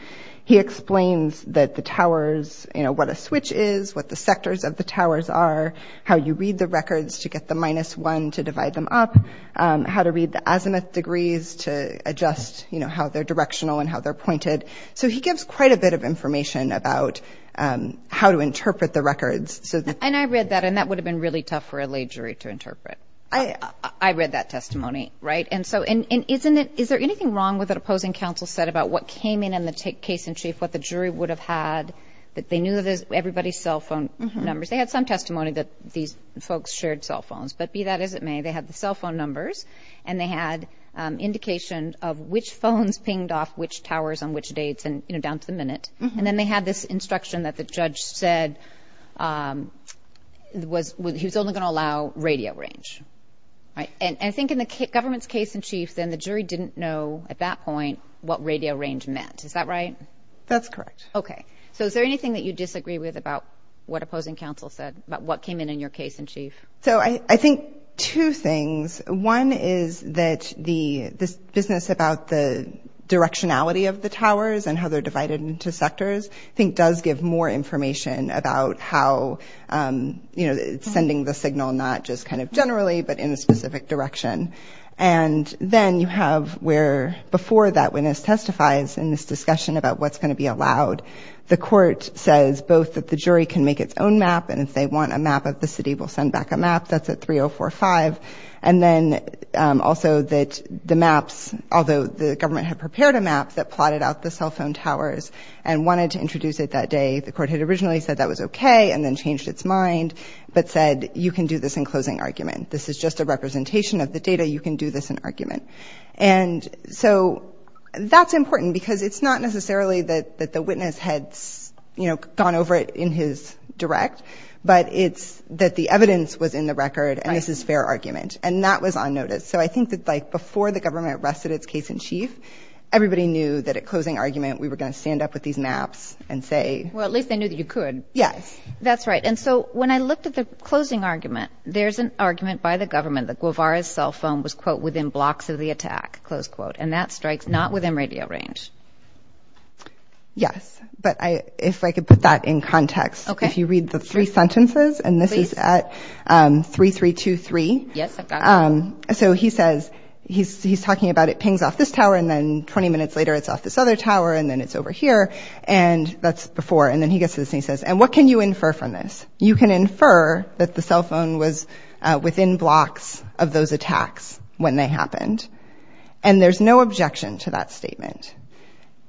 he explains that the towers, you know, what a switch is, what the sectors of the towers are, how you read the records to get the minus one to divide them up, how to read the azimuth degrees to adjust, you know, how they're directional and how they're pointed. So, he gives quite a bit of information about how to interpret the records. And I read that, and that would have been really tough for a lay jury to interpret. I read that testimony, right? And so, and isn't it, is there anything wrong with what the opposing counsel said about what came in in the case in chief, what the jury would have had, that they knew everybody's cell phone numbers. They had some testimony that these folks shared cell phones, but be that as it may, they had the cell phone numbers, and they had indications of which phones pinged off which towers on which dates in advance of the minute. And then they had this instruction that the judge said he was only going to allow radio range. And I think in the government's case in chief, then the jury didn't know at that point what radio range meant. Is that right? That's correct. Okay. So, is there anything that you disagree with about what opposing counsel said about what came in in your case in chief? So, I think two things. One is that the business about the directionality of the towers and how they're divided into sectors, I think does give more information about how, you know, sending the signal not just kind of generally, but in a specific direction. And then you have where before that witness testifies in this discussion about what's going to be allowed, the court says both that the jury can make its own map and if they want a map of the city, we'll send back a map. That's at 3045. And then also that the maps, although the government had prepared a map that plotted out the cell phone towers and wanted to introduce it that day, the court had originally said that was okay and then changed its mind. But said, you can do this in closing argument. This is just a representation of the data. You can do this in argument. And so, that's important because it's not necessarily that the witness had, you know, gone over it in his direct, but it's that the evidence was in the record and this is fair argument. And that was on notice. So, I think that like before the government arrested its case in chief, everybody knew that at closing argument, we were going to stand up with these maps and say. Well, at least they knew you could. Yes, that's right. And so, when I looked at the closing argument, there's an argument by the government that Guevara's cell phone was, quote, within blocks of the attack, close quote. And that strikes not within radio range. Yes, but if I could put that in context. Okay. If you read the three sentences and this is at 3323. Yes, I've got it. So, he says, he's talking about it pings off this tower and then 20 minutes later it's off this other tower and then it's over here and that's before. And then he gets this and he says, and what can you infer from this? You can infer that the cell phone was within blocks of those attacks when they happened. And there's no objection to that statement.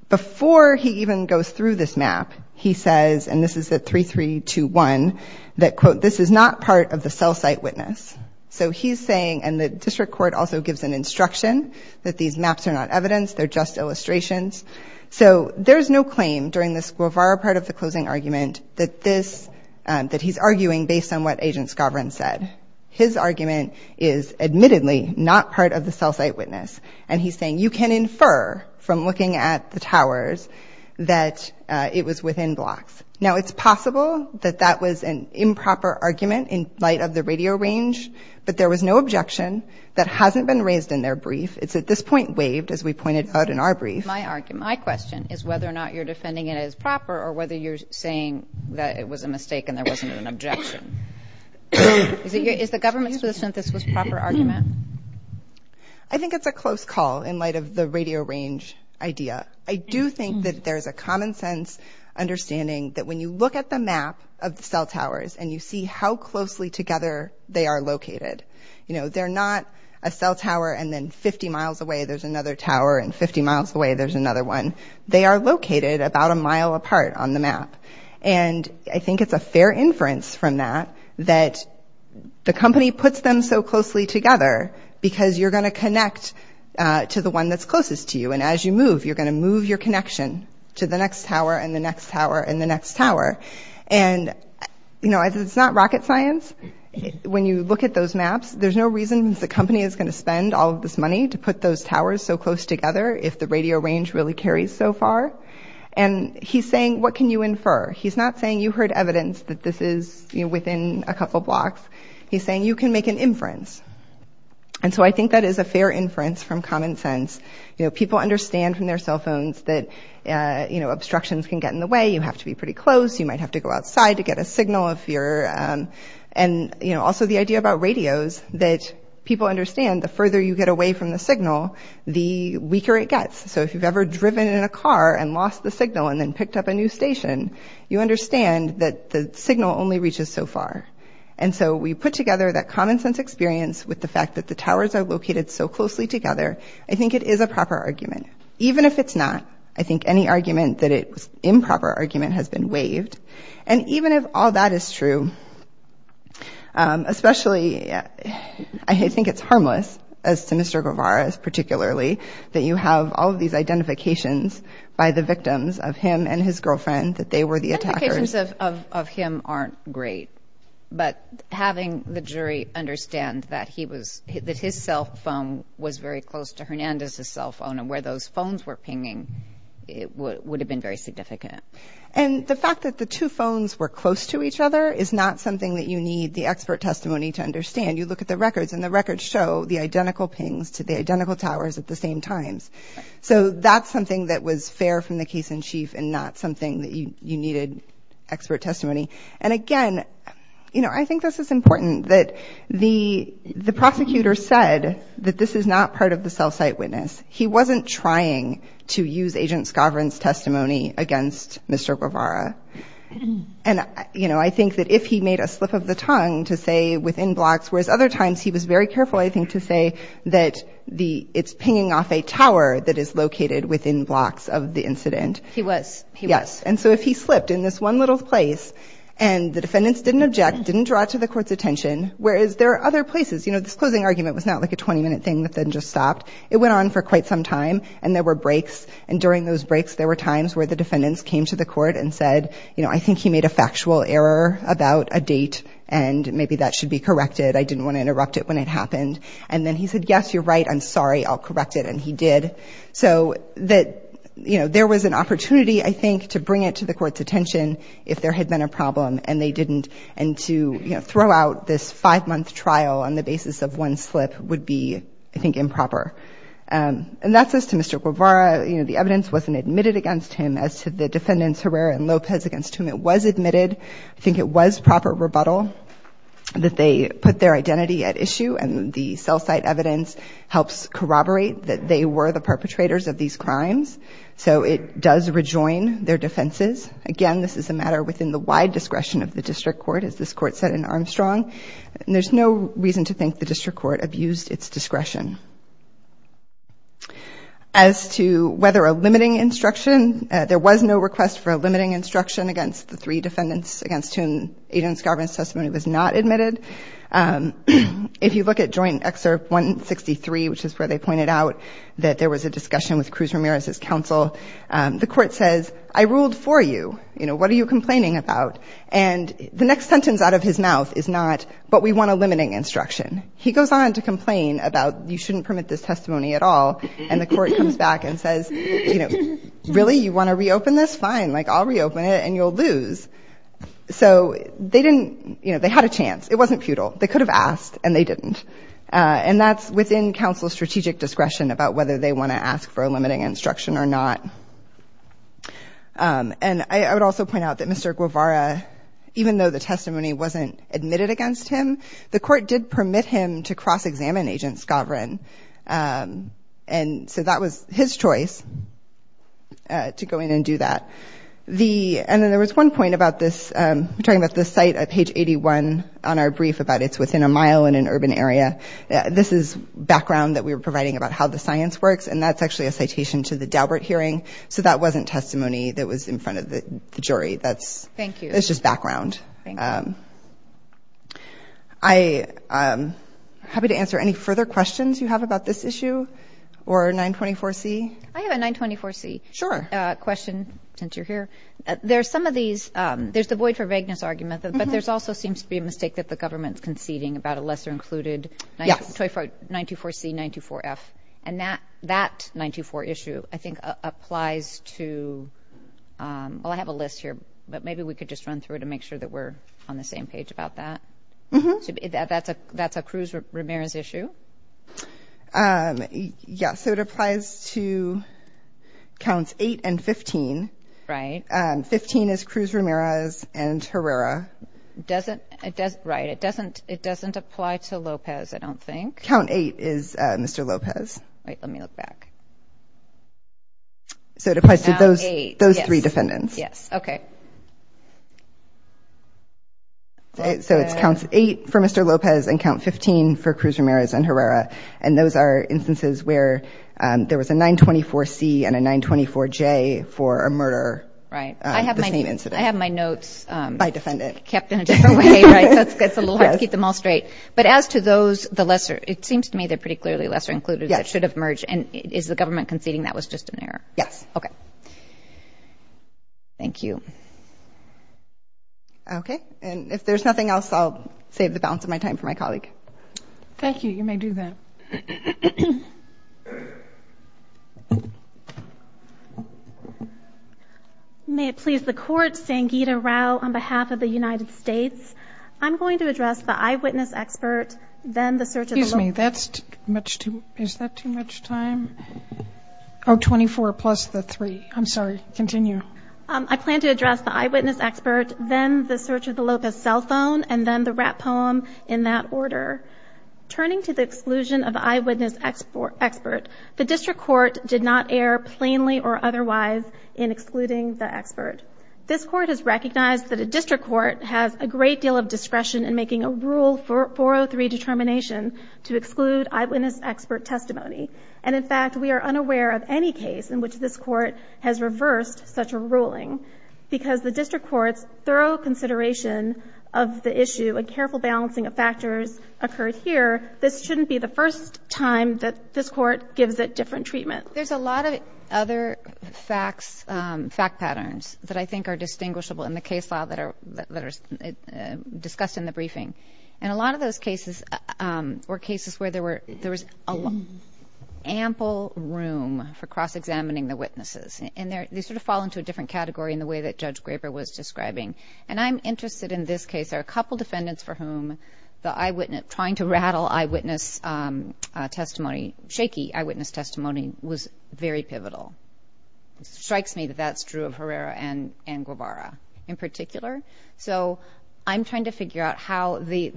Before he even goes through this map, he says, and this is at 3321, that quote, this is not part of the cell site witness. So, he's saying and the district court also gives an instruction that these maps are not evidence, they're just illustrations. So, there's no claim during this part of the closing argument that this, that he's arguing based on what Agent Skavran said. His argument is admittedly not part of the cell site witness. And he's saying you can infer from looking at the towers that it was within blocks. Now, it's possible that that was an improper argument in light of the radio range, but there was no objection that hasn't been raised in their brief. It's at this point waived as we pointed out in our brief. My question is whether or not you're defending it as proper or whether you're saying that it was a mistake and there wasn't an objection. Is the government in the sense that this was a proper argument? I think it's a close call in light of the radio range idea. I do think that there's a common sense understanding that when you look at the map of the cell towers and you see how closely together they are located, you know, they're not a cell tower and then 50 miles away there's another tower and 50 miles away there's another one. They are located about a mile apart on the map. And I think it's a fair inference from that that the company puts them so closely together because you're going to connect to the one that's closest to you and as you move, you're going to move your connection to the next tower and the next tower and the next tower. And, you know, it's not rocket science. When you look at those maps, there's no reason the company is going to spend all this money to put those towers so close together if the radio range really carries so far. And he's saying, what can you infer? He's not saying you heard evidence that this is within a couple blocks. He's saying you can make an inference. And so I think that is a fair inference from common sense. You know, people understand from their cell phones that, you know, obstructions can get in the way. You have to be pretty close. You might have to go outside to get a signal if you're and, you know, also the idea about radios that people understand the further you get away from the signal, the weaker it gets. So if you've ever driven in a car and lost the signal and then picked up a new station, you understand that the signal only reaches so far. And so we put together that common sense experience with the fact that the towers are located so closely together. I think it is a proper argument. Even if it's not, I think any argument that it's improper argument has been waived. And even if all that is true, especially I think it's harmless, as Sinister Guevara particularly, that you have all of these identifications by the victims of him and his girlfriend that they were the attackers. Identifications of him aren't great. But having the jury understand that his cell phone was very close to Hernandez's cell phone and where those phones were pinging would have been very significant. And the fact that the two phones were close to each other is not something that you need the expert testimony to understand. You look at the records and the records show the identical pings to the identical towers at the same time. So that's something that was fair from the case in chief and not something that you needed expert testimony. And again, you know, I think this is important that the prosecutor said that this is not part of the cell site witness. He wasn't trying to use agent's governance testimony against Mr. Guevara. And, you know, I think that if he made a slip of the tongue to say within blocks, whereas other times he was very careful, I think, to say that it's pinging off a tower that is located within blocks of the incident. He was. Yes. And so if he slipped in this one little place and the defendants didn't object, didn't draw to the court's attention, whereas there are other places, you know, this closing argument was not like a 20-minute thing that then just stopped. It went on for quite some time and there were breaks. And during those breaks there were times where the defendants came to the court and said, you know, I think he made a factual error about a date and maybe that should be corrected. I didn't want to interrupt it when it happened. And then he said, yes, you're right, I'm sorry, I'll correct it. And he did. So that, you know, there was an opportunity, I think, to bring it to the court's attention if there had been a problem and they didn't and to, you know, throw out this five-month trial on the basis of one slip would be, I think, improper. And that says to Mr. Guevara, you know, the evidence wasn't admitted against him as to the defendants Herrera and Lopez against whom it was admitted. I think it was proper rebuttal that they put their identity at issue and the cell site evidence helps corroborate that they were the perpetrators of these crimes. So it does rejoin their defenses. Again, this is a matter within the wide discretion of the district court, as this court said in Armstrong. And there's no reason to think the district court abused its discretion. As to whether a limiting instruction, there was no request for a limiting instruction against the three defendants against whom agent's governance testimony was not admitted. If you look at Joint Excerpt 163, which is where they pointed out that there was a discussion with Cruz Ramirez's counsel, the court says, I ruled for you. You know, what are you complaining about? And the next sentence out of his mouth is not, but we want a limiting instruction. He goes on to complain about you shouldn't permit this testimony at all. And the court comes back and says, you know, really, you want to reopen this? Fine. Like, I'll reopen it and you'll lose. So they didn't, you know, they had a chance. It wasn't futile. They could have asked and they didn't. And that's within counsel's strategic discretion about whether they want to ask for a limiting instruction or not. And I would also point out that Mr. Guevara, even though the testimony wasn't admitted against him, the court did permit him to cross-examine agent Skaverin. And so that was his choice to go in and do that. And then there was one point about this, talking about this site at page 81 on our brief about it's within a mile in an urban area. This is background that we were providing about how the science works. And that's actually a citation to the Daubert hearing. So that wasn't testimony that was in front of the jury. That's just background. I'm happy to answer any further questions you have about this issue or 924C. I have a 924C question since you're here. There are some of these, there's the Boyd for Vagueness argument, but there's also seems to be a mistake that the government's conceding about a lesser included 924C, 924F. And that 924 issue, I think, applies to, well, I have a list here, but maybe we could just run through it and make sure that we're on the same page about that. That's a Cruz-Ramirez issue. Yeah. So it applies to counts 8 and 15. Right. 15 is Cruz-Ramirez and Herrera. Right. It doesn't apply to Lopez, I don't think. Count 8 is Mr. Lopez. Wait, let me look back. So it applies to those three defendants. Yes. Okay. So it's count 8 for Mr. Lopez and count 15 for Cruz-Ramirez and Herrera. And those are instances where there was a 924C and a 924J for a murder. Right. I have my notes. By defendant. It's a little hard to keep them all straight. But as to those, the lesser, it seems to me the particularly lesser included that should have merged, and is the government conceding that was just an error? Yes. Okay. Thank you. Okay. And if there's nothing else, I'll save the balance of my time for my colleague. Thank you. You may do that. May it please the court, Sangeeta Rao on behalf of the United States. I'm going to address the eyewitness expert, then the search of the Lopez cell phone. Excuse me. Is that too much time? Oh, 24 plus the 3. I'm sorry. Continue. I plan to address the eyewitness expert, then the search of the Lopez Turning to the exclusion of the eyewitness expert, I'm going to address the eyewitness expert. The district court did not err plainly or otherwise in excluding the expert. This court has recognized that a district court has a great deal of discretion in making a rule 403 determination to exclude eyewitness expert testimony. And in fact, we are unaware of any case in which this court has reversed such a ruling. Because the district court's thorough consideration of the issue and the first time that this court gives it different treatment. There's a lot of other fact patterns that I think are distinguishable in the case file that are discussed in the briefing. And a lot of those cases were cases where there was ample room for cross-examining the witnesses. And they sort of fall into a different category in the way that Judge Graber was describing. And I'm interested in this case. There are a couple defendants for whom the eyewitness, trying to rattle eyewitness testimony, shaky eyewitness testimony was very pivotal. It strikes me that that's true of Herrera and Guevara in particular. So I'm trying to figure out how the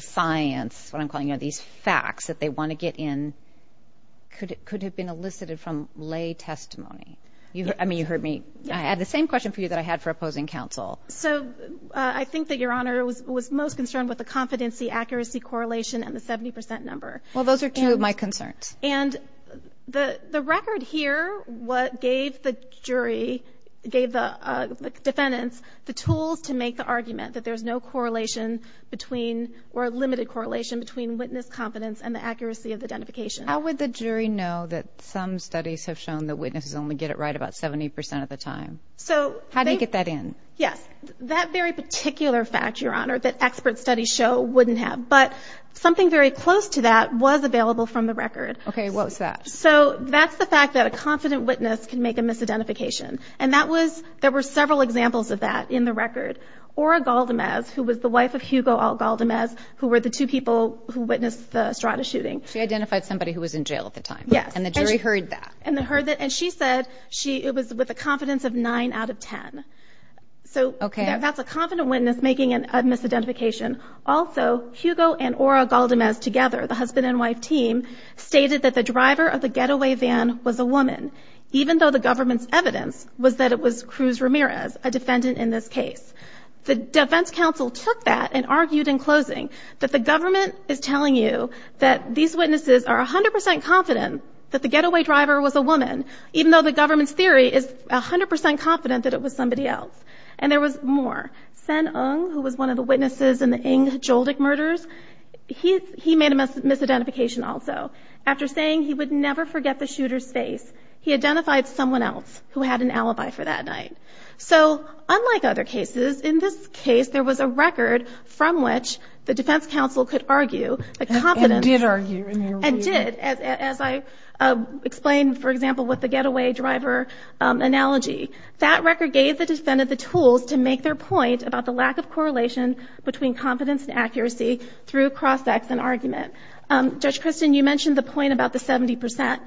science, what I'm calling these facts that they want to get in could have been elicited from lay testimony. I mean, you heard me. I had the same question for you that I had for opposing counsel. So I think that Your Honor was most concerned with the competency accuracy correlation and the 70% number. Well, those are two of my concerns. And the record here gave the jury, gave the defendants the tools to make the argument that there's no correlation between or limited correlation between witness confidence and the accuracy of identification. How would the jury know that some studies have shown that witnesses only get it right about 70% of the time? How do you get that in? Yes, that very particular fact, Your Honor, that expert studies show, wouldn't have. But something very close to that was available from the record. Okay. What was that? So that's the fact that a confident witness can make a misidentification. And there were several examples of that in the record. Ora Galdamez, who was the wife of Hugo L. Galdamez, who were the two people who witnessed the Strata shooting. She identified somebody who was in jail at the time. Yes. And the jury heard that. And she said it was with a confidence of 9 out of 10. Okay. That's a confident witness making a misidentification. Also, Hugo and Ora Galdamez together, the husband and wife team, stated that the driver of the getaway van was a woman, even though the government's evidence was that it was Cruz Ramirez, a defendant in this case. The defense counsel took that and argued in closing that the government is telling you that these witnesses are 100% confident that the getaway driver was a woman, even though the government's theory is 100% confident that it was somebody else. And there was more. Sen Ong, who was one of the witnesses in the Ng's Joldik murders, he made a misidentification also. After saying he would never forget the shooter's face, he identified someone else who had an alibi for that night. So unlike other cases, in this case, there was a record from which the defense counsel could argue a confidence. And did argue. And did, as I explained, for example, with the getaway driver analogy. That record gave the defendant the tools to make their point about the lack of correlation between confidence and accuracy through cross-examination argument. Judge Christin, you mentioned the point about the 70%.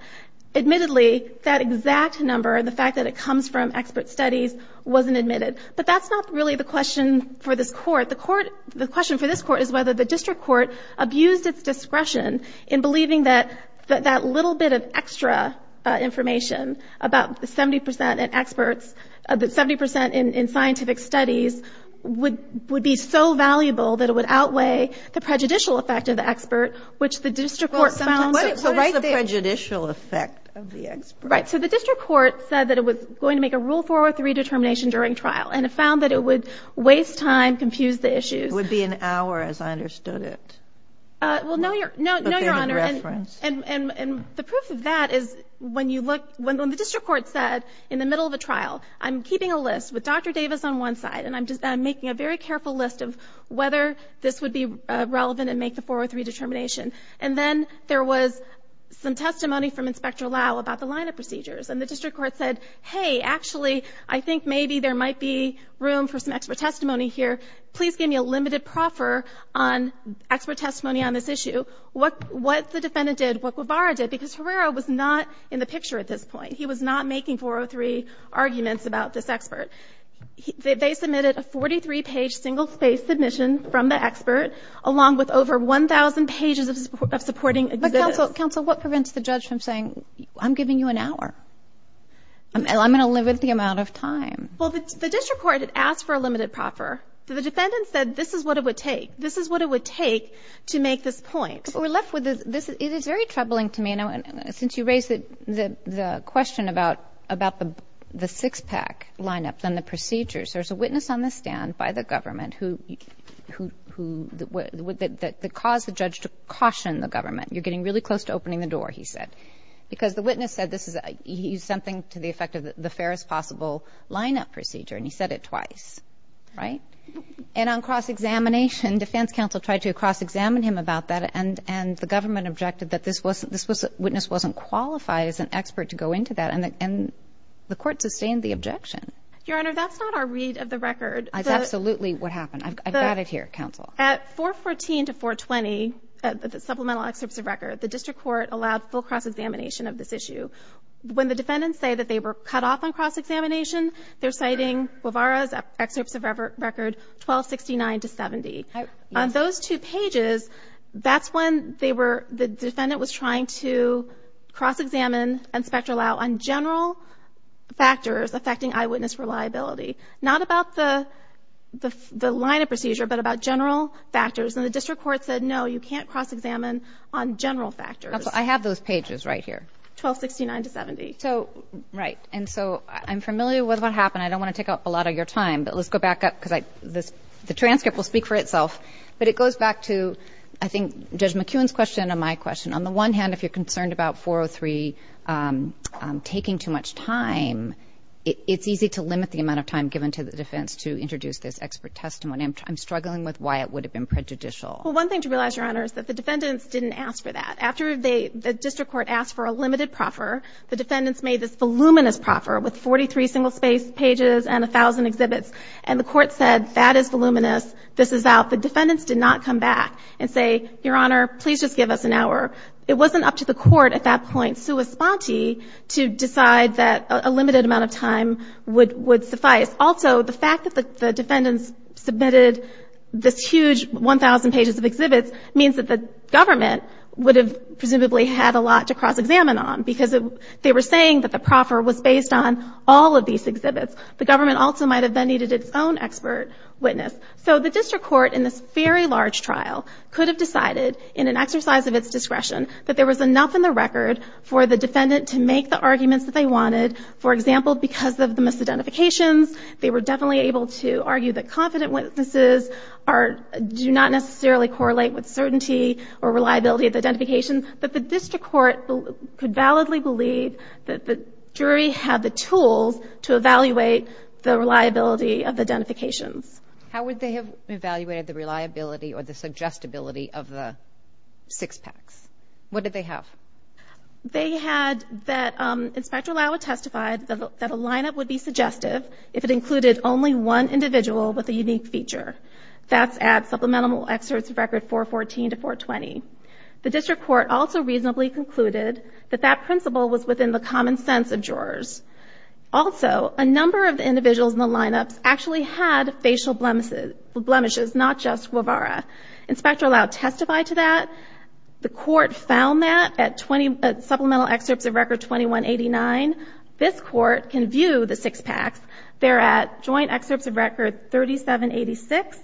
Admittedly, that exact number and the fact that it comes from expert studies wasn't admitted. But that's not really the question for this court. The question for this court is whether the district court abused its discretion in believing that that little bit of extra information about the 70% in experts, 70% in scientific studies, would be so valuable that it would outweigh the prejudicial effect of the expert, which the district court found. What is the prejudicial effect of the expert? Right. So the district court said that it was going to make a Rule 403 determination during trial. And it found that it would waste time, confuse the issue. It would be an hour, as I understood it. Well, no, Your Honor. And the proof of that is when you look, when the district court said in the middle of the trial, I'm keeping a list with Dr. Davis on one side and I'm making a very careful list of whether this would be relevant and make the 403 determination. And then there was some testimony from Inspector Lau about the line of procedures. And the district court said, hey, actually, I think maybe there might be room for some expert testimony here. Please give me a limited proffer on expert testimony on this issue. What the defendant did, what Guevara did, because Ferreira was not in the picture at this point. He was not making 403 arguments about this expert. They submitted a 43-page single-spaced submission from the expert, along with over 1,000 pages of supporting evidence. But, counsel, what prevents the judge from saying, I'm giving you an hour? I'm going to limit the amount of time. Well, the district court asked for a limited proffer. So the defendant said, this is what it would take. This is what it would take to make this point. It is very troubling to me, since you raised the question about the six-pack lineups and the procedures. There's a witness on the stand by the government who, the cause of the judge to caution the government. You're getting really close to opening the door, he said. Because the witness said he's something to the effect of the fairest possible lineup procedure, and he said it twice. And on cross-examination, defense counsel tried to cross-examine him about that, and the government objected that this witness wasn't qualified as an expert to go into that. And the court sustained the objection. Your Honor, that's not our read of the record. That's absolutely what happened. I've got it here, counsel. At 414 to 420, the supplemental excerpts of record, the district court allowed full cross-examination of this issue. When the defendants say that they were cut off on cross-examination, they're citing Guevara's excerpts of record 1269 to 70. On those two pages, that's when the defendant was trying to cross-examine and speculate on general factors affecting eyewitness reliability. Not about the lineup procedure, but about general factors. And the district court said, no, you can't cross-examine on general factors. I have those pages right here. 1269 to 70. Right. And so I'm familiar with what happened. I don't want to take up a lot of your time, but let's go back up. The transcript will speak for itself. But it goes back to, I think, Judge McKeown's question and my question. On the one hand, if you're concerned about 403 taking too much time, it's easy to limit the amount of time given to the defendants to introduce this expert testimony. I'm struggling with why it would have been prejudicial. Well, one thing to realize, Your Honor, is that the defendants didn't ask for that. After the district court asked for a limited proffer, the defendants made this voluminous proffer with 43 single-spaced pages and 1,000 exhibits, and the court said, that is voluminous. This is out. The defendants did not come back and say, Your Honor, please just give us an hour. It wasn't up to the court at that point, sua sponte, to decide that a limited amount of time would suffice. Also, the fact that the defendants submitted this huge 1,000 pages of exhibits means that the government would have presumably had a lot to cross-examine on because they were saying that the proffer was based on all of these exhibits. The government also might have then needed its own expert witness. So the district court, in this very large trial, could have decided, in an exercise of its discretion, that there was enough in the record for the defendant to make the arguments that they wanted. For example, because of the misidentifications, they were definitely able to argue that confident witnesses do not necessarily correlate with certainty or reliability of identification, but the district court could validly believe that the jury had the tools to evaluate the reliability of identification. How would they have evaluated the reliability or the suggestibility of the six packs? What did they have? They had that Inspector Lauer testified that a lineup would be suggestive if it included only one individual with a unique feature. That's at Supplemental Excerpts Record 414 to 420. The district court also reasonably concluded that that principle was within the common sense of jurors. Also, a number of individuals in the lineup actually had facial blemishes, not just Guevara. Inspector Lauer testified to that. The court found that at Supplemental Excerpts Record 2189. This court can view the six packs. They're at Joint Excerpts of Records 3786,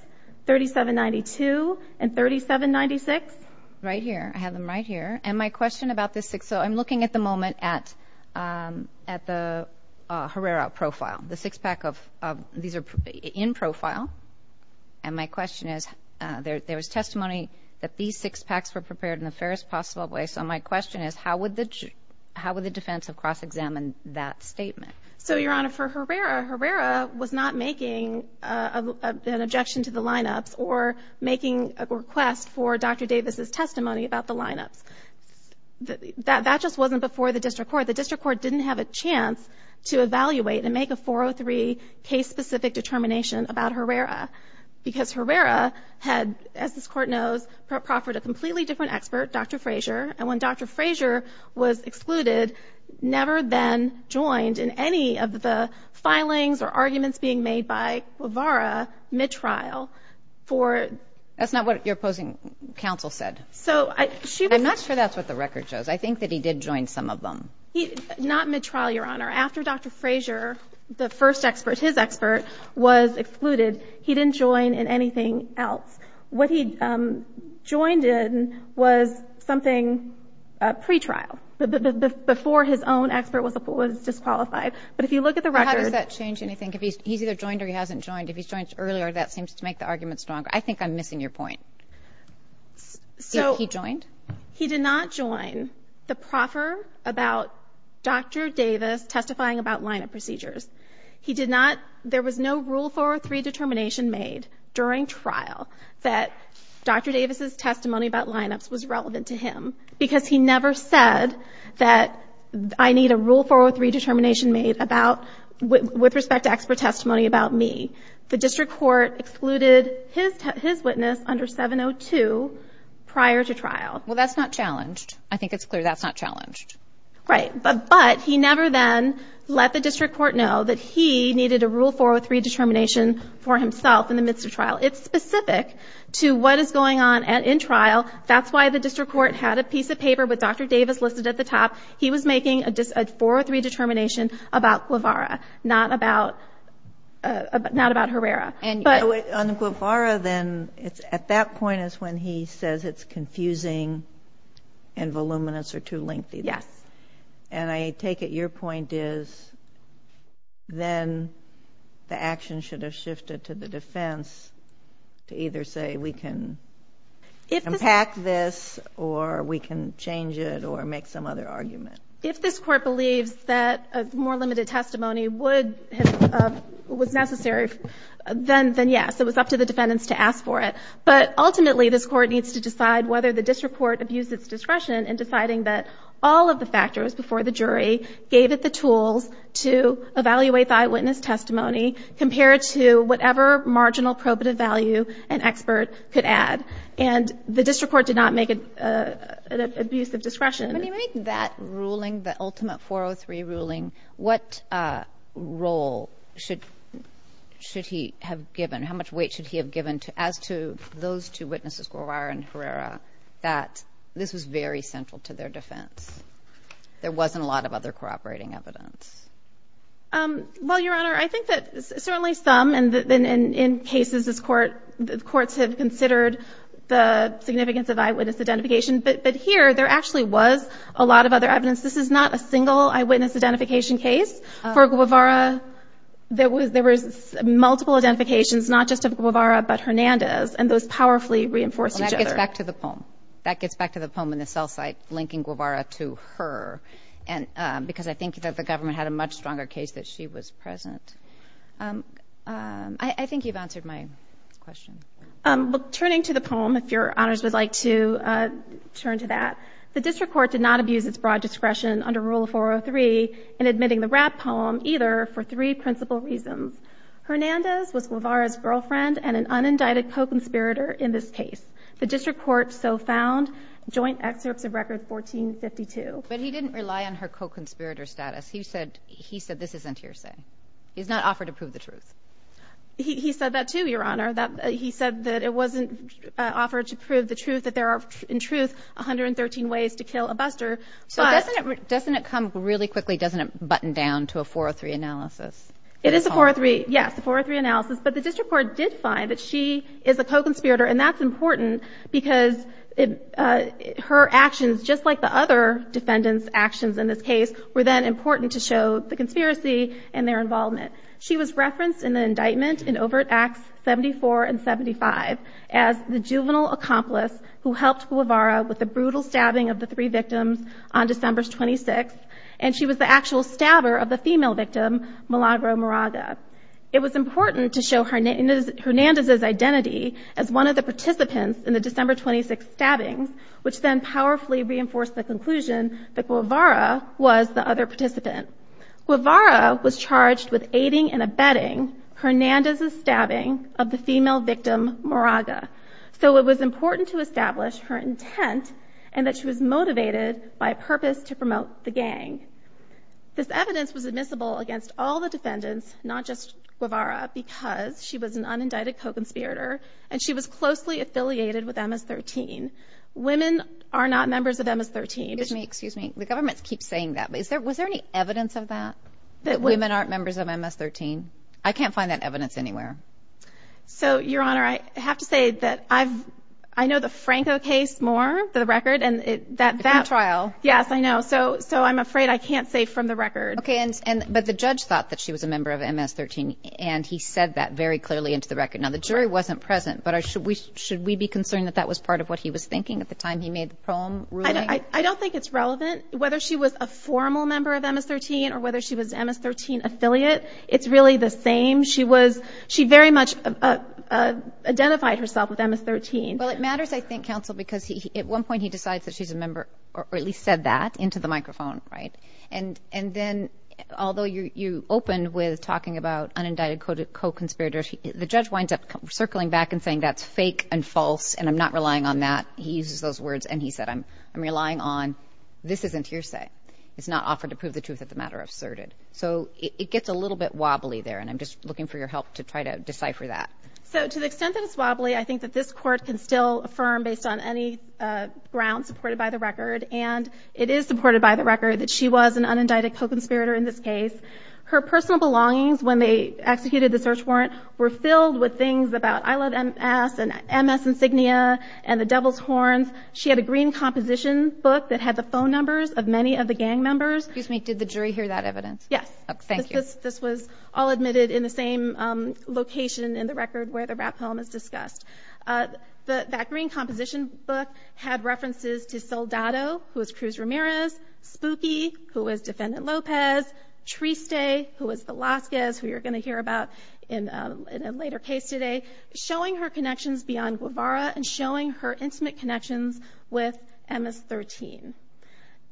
3792, and 3796. Right here. I have them right here. And my question about the six – so I'm looking at the moment at the Herrera profile. The six pack of – these are in profile. And my question is, there was testimony that these six packs were prepared in the fairest possible way. So my question is, how would the defense have cross-examined that statement? So, Your Honor, for Herrera, Herrera was not making an objection to the lineup or making a request for Dr. Davis's testimony about the lineup. That just wasn't before the district court. The district court didn't have a chance to evaluate and make a 403 case-specific determination about Herrera because Herrera had, as this court knows, proffered a completely different expert, Dr. Frazier. And when Dr. Frazier was excluded, never then joined in any of the filings or arguments being made by Guevara mid-trial for – That's not what your opposing counsel said. I'm not sure that's what the record shows. I think that he did join some of them. Not mid-trial, Your Honor. After Dr. Frazier, the first expert, his expert, was excluded, he didn't join in anything else. What he joined in was something pre-trial, before his own expert was disqualified. But if you look at the record – How does that change anything? If he's either joined or he hasn't joined? If he joins earlier, that seems to make the argument stronger. I think I'm missing your point. So – He joined? He did not join the proffer about Dr. Davis testifying about lineup procedures. He did not – there was no rule 403 determination made during trial that Dr. Davis' testimony about lineups was relevant to him because he never said that I need a rule 403 determination made about – with respect to expert testimony about me. The district court excluded his witness under 702 prior to trial. Well, that's not challenged. I think it's clear that's not challenged. Right, but he never then let the district court know that he needed a rule 403 determination for himself in the midst of trial. It's specific to what is going on in trial. That's why the district court had a piece of paper with Dr. Davis listed at the top. He was making a rule 403 determination about Guevara, not about Herrera. On Guevara then, at that point is when he says it's confusing and voluminous or too lengthy. Yes. And I take it your point is then the action should have shifted to the defense to either say we can impact this or we can change it or make some other argument. If this court believes that a more limited testimony would – was necessary, then yes. It was up to the defendants to ask for it. But ultimately this court needs to decide whether the district court abused its discretion in deciding that all of the factors before the jury gave it the tools to evaluate the eyewitness testimony compared to whatever marginal probative value an expert could add. And the district court did not make an abuse of discretion. When you make that ruling, the ultimate 403 ruling, what role should he have given, how much weight should he have given as to those two witnesses, Guevara and Herrera, that this is very central to their defense. There wasn't a lot of other cooperating evidence. Well, Your Honor, I think that certainly some, and in cases courts have considered the significance of eyewitness identification, but here there actually was a lot of other evidence. This is not a single eyewitness identification case. For Guevara, there was multiple identifications, not just of Guevara but Hernandez, and those powerfully reinforced each other. And that gets back to the poem. That gets back to the poem in itself by linking Guevara to her, because I think that the government had a much stronger case that she was present. I think you've answered my question. Turning to the poem, if Your Honors would like to turn to that, the district court did not abuse its broad discretion under Rule 403 in admitting the rap poem either for three principal reasons. Hernandez was Guevara's girlfriend and an unindicted co-conspirator in this case. The district court so found joint excerpts of Record 1452. But he didn't rely on her co-conspirator status. He said this isn't hearsay. He's not offered to prove the truth. He said that too, Your Honor. He said that it wasn't offered to prove the truth, that there are, in truth, 113 ways to kill a buster. Doesn't it come really quickly? Doesn't it button down to a 403 analysis? It is a 403, yes, a 403 analysis. But the district court did find that she is a co-conspirator, and that's important because her actions, just like the other defendants' actions in this case, were then important to show the conspiracy and their involvement. She was referenced in the indictment in Overt Acts 74 and 75 as the juvenile accomplice who helped Guevara with the brutal stabbing of the three victims on December 26th, and she was the actual stabber of the female victim, Milagro Moraga. It was important to show Hernandez's identity as one of the participants in the December 26th stabbing, which then powerfully reinforced the conclusion that Guevara was the other participant. Guevara was charged with aiding and abetting Hernandez's stabbing of the female victim, Moraga, so it was important to establish her intent and that she was motivated by a purpose to promote the gang. This evidence was admissible against all the defendants, not just Guevara, because she was an unindicted co-conspirator and she was closely affiliated with MS-13. Women are not members of MS-13. The government keeps saying that, but was there any evidence of that? That women aren't members of MS-13? I can't find that evidence anywhere. So, Your Honor, I have to say that I know the Franco case more for the record. That trial. Yes, I know, so I'm afraid I can't say from the record. Okay, but the judge thought that she was a member of MS-13 and he said that very clearly into the record. Now, the jury wasn't present, but should we be concerned that that was part of what he was thinking at the time he made the poem ruling? I don't think it's relevant whether she was a formal member of MS-13 or whether she was MS-13 affiliate. It's really the same. She very much identified herself as MS-13. Well, it matters, I think, counsel, because at one point he decides that she's a member or at least said that into the microphone, right? And then, although you opened with talking about unindicted co-conspirators, the judge winds up circling back and saying that's fake and false and I'm not relying on that. He uses those words and he said I'm relying on this isn't hearsay. It's not offered to prove the truth of the matter asserted. So, it gets a little bit wobbly there and I'm just looking for your help to try to decipher that. So, to the extent that it's wobbly, I think that this court can still affirm based on any ground supported by the record and it is supported by the record that she was an unindicted co-conspirator in this case. Her personal belongings when they executed the search warrant were filled with things about I love MS and MS insignia and the devil's horns. She had a green composition book that had the phone numbers of many of the gang members. Excuse me, did the jury hear that evidence? Yes. Thank you. This was all admitted in the same location in the record where the rap poem is discussed. That green composition book had references to Soldado, who was Cruz Ramirez, Spooky, who was Defendant Lopez, Triste, who was Velazquez, who you're going to hear about in a later case today, showing her connections beyond Guevara and showing her intimate connections with MS-13.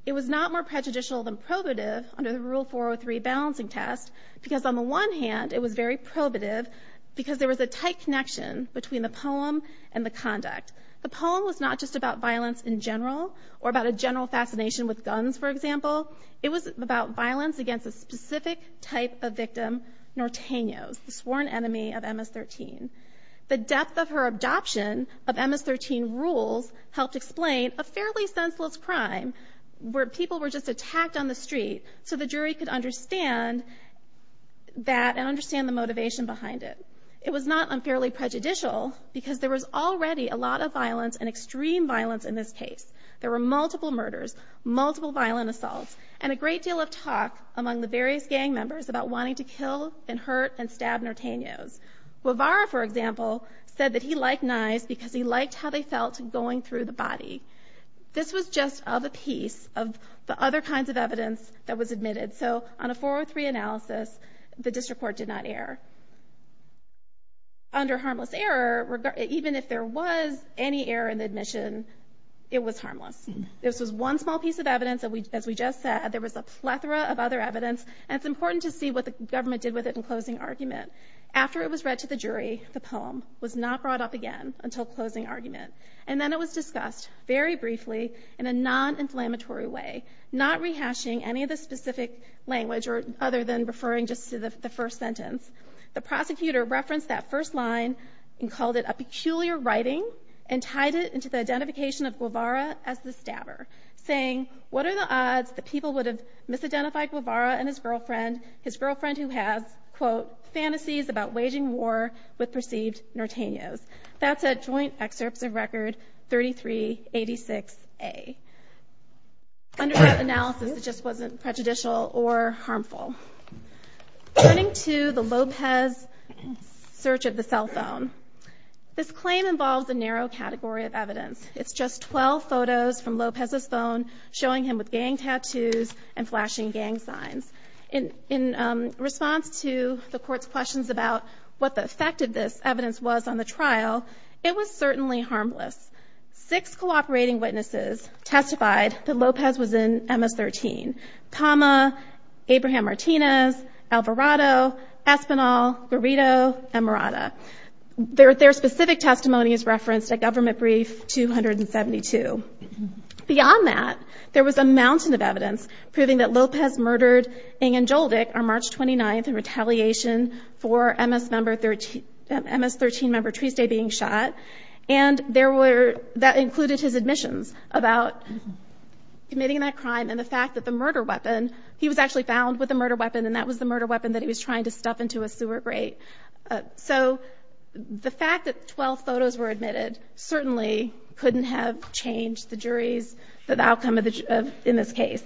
It was not more prejudicial than probative under the Rule 403 balancing test because on the one hand, it was very probative because there was a tight connection between the poem and the conduct. The poem was not just about violence in general or about a general fascination with guns, for example. It was about violence against a specific type of victim, Nortenos, the sworn enemy of MS-13. The depth of her adoption of MS-13 rules helped explain a fairly senseless crime where people were just attacked on the street so the jury could understand that and understand the motivation behind it. It was not unfairly prejudicial because there was already a lot of violence and extreme violence in this case. There were multiple murders, multiple violent assaults, and a great deal of talk among the various gang members about wanting to kill and hurt and stab Nortenos. Guevara, for example, said that he liked knives because he liked how they felt going through the body. This was just of a piece of the other kinds of evidence that was admitted. So on a 403 analysis, the district court did not err. Under harmless error, even if there was any error in the admission, it was harmless. This was one small piece of evidence. As we just said, there was a plethora of other evidence, and it's important to see what the government did with it in closing argument. After it was read to the jury, the poem was not brought up again until closing argument, and then it was discussed very briefly in a non-inflammatory way, not rehashing any of the specific language other than referring just to the first sentence. The prosecutor referenced that first line and called it a peculiar writing and tied it into the identification of Guevara as the stabber, saying what are the odds that people would have misidentified Guevara and his girlfriend, his girlfriend who has, quote, fantasies about waging war with perceived Nortenos. That's a joint excerpt of Record 3386A. Under that analysis, it just wasn't prejudicial or harmful. Turning to the Lopez search of the cell phone, this claim involves a narrow category of evidence. It's just 12 photos from Lopez's phone showing him with gang tattoos and flashing gang signs. In response to the court's questions about what the effect of this evidence was on the trial, it was certainly harmless. Six cooperating witnesses testified that Lopez was in MS-13, PAMA, Abraham Martinez, Alvarado, Espinol, Burrito, and Murata. Their specific testimony is referenced at Government Brief 272. Beyond that, there was a mountain of evidence proving that Lopez murdered Ng and Joldik on March 29th in retaliation for MS-13 member Tuesday being shot, and that included his admissions about committing that crime and the fact that the murder weapon, he was actually found with a murder weapon, and that was the murder weapon that he was trying to stuff into a sewer grate. So the fact that 12 photos were admitted certainly couldn't have changed the jury's outcome in this case.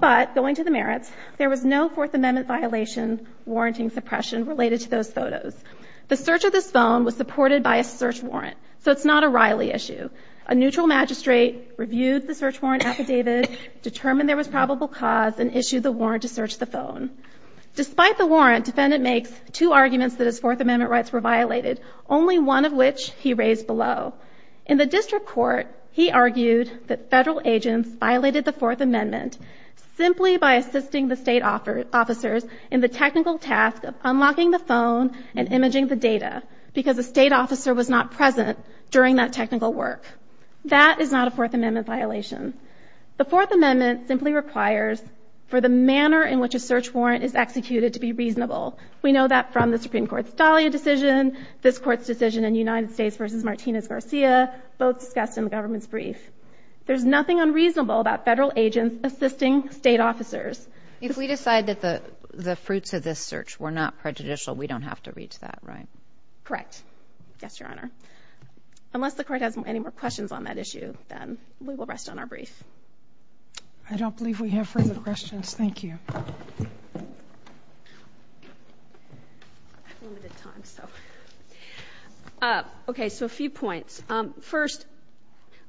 But going to the merits, there was no Fourth Amendment violation, warranting suppression related to those photos. The search of the phone was supported by a search warrant, so it's not a Riley issue. A neutral magistrate reviewed the search warrant affidavit, determined there was probable cause, and issued the warrant to search the phone. Despite the warrant, defendant made two arguments that his Fourth Amendment rights were violated, only one of which he raised below. In the district court, he argued that federal agents violated the Fourth Amendment simply by assisting the state officers in the technical task of unlocking the phone and imaging the data because the state officer was not present during that technical work. That is not a Fourth Amendment violation. The Fourth Amendment simply requires for the manner in which a search warrant is executed to be reasonable. We know that from the Supreme Court's Falea decision, this court's decision in United States v. Martinez-Garcia, both discussed in the government's brief. There's nothing unreasonable about federal agents assisting state officers. If we decide that the fruits of this search were not prejudicial, we don't have to reach that, right? Correct. Yes, Your Honor. Unless the court has any more questions on that issue, then we will rest on our brief. I don't believe we have further questions. Thank you. Okay, so a few points. First,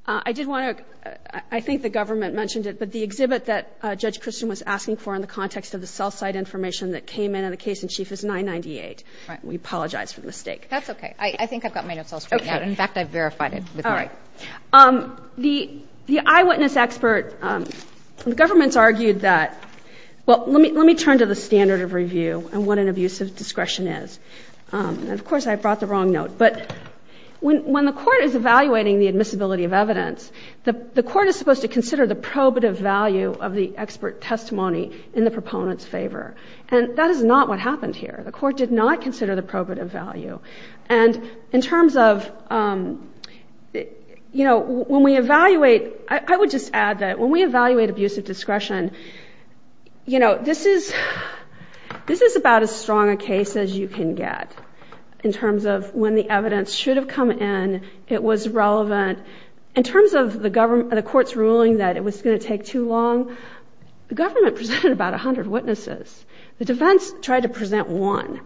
I did want to – I think the government mentioned it, but the exhibit that Judge Christian was asking for in the context of the cell site information that came in in the case in Chief is 998. We apologize for the mistake. That's okay. I think I've got mine in cell state now. In fact, I've verified it. All right. The eyewitness expert – the government's argued that – well, let me turn to the standard of review and what an abuse of discretion is. Of course, I brought the wrong note. But when the court is evaluating the admissibility of evidence, the court is supposed to consider the probative value of the expert testimony in the proponent's favor. And that is not what happened here. The court did not consider the probative value. And in terms of – when we evaluate – I would just add that when we evaluate abuse of discretion, you know, this is about as strong a case as you can get in terms of when the evidence should have come in, it was relevant. In terms of the court's ruling that it was going to take too long, the government presented about 100 witnesses. The defense tried to present one.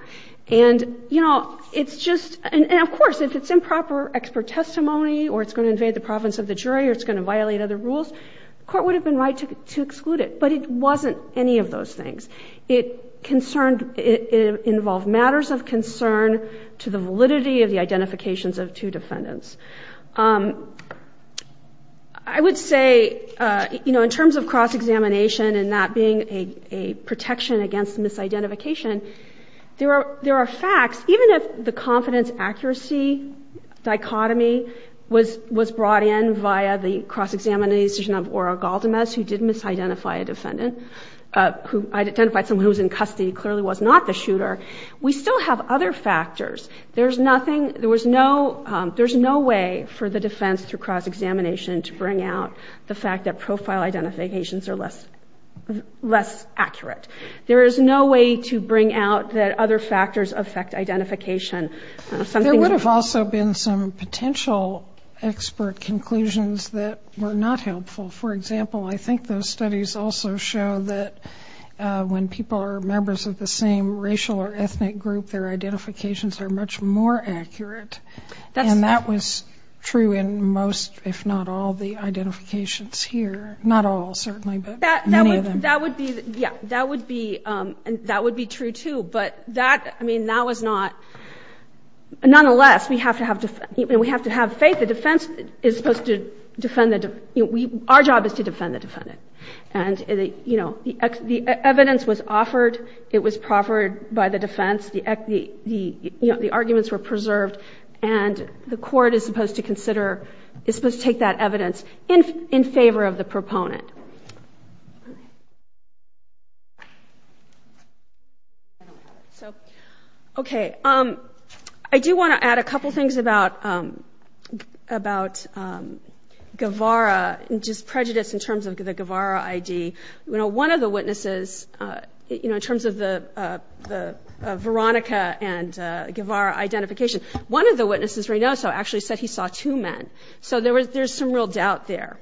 And, you know, it's just – and of course, if it's improper expert testimony or it's going to invade the province of the jury or it's going to violate other rules, the court would have been right to exclude it. But it wasn't any of those things. It concerned – it involved matters of concern to the validity of the identifications of two defendants. I would say, you know, in terms of cross-examination and that being a protection against misidentification, there are facts – even if the confidence-accuracy dichotomy was brought in via the cross-examination of Ora Galdamez, who did misidentify a defendant, identified someone who was in custody and clearly was not the shooter, we still have other factors. There's nothing – there was no – there's no way for the defense through cross-examination to bring out the fact that profile identifications are less accurate. There is no way to bring out that other factors affect identification. There would have also been some potential expert conclusions that were not helpful. For example, I think those studies also show that when people are members of the same racial or ethnic group, their identifications are much more accurate. And that was true in most, if not all, the identifications here. Not all, certainly, but many of them. That would be – yeah, that would be – that would be true, too. But that – I mean, that was not – nonetheless, we have to have – we have to have faith. The defense is supposed to defend the – our job is to defend the defendant. And, you know, the evidence was offered. It was proffered by the defense. The arguments were preserved. And the court is supposed to consider – it's supposed to take that evidence in favor of the proponent. Okay. I do want to add a couple things about – about Guevara, and just prejudice in terms of the Guevara ID. You know, one of the witnesses, you know, in terms of the Veronica and Guevara identification, one of the witnesses, Reynoso, actually said he saw two men. So there was – there's some real doubt there.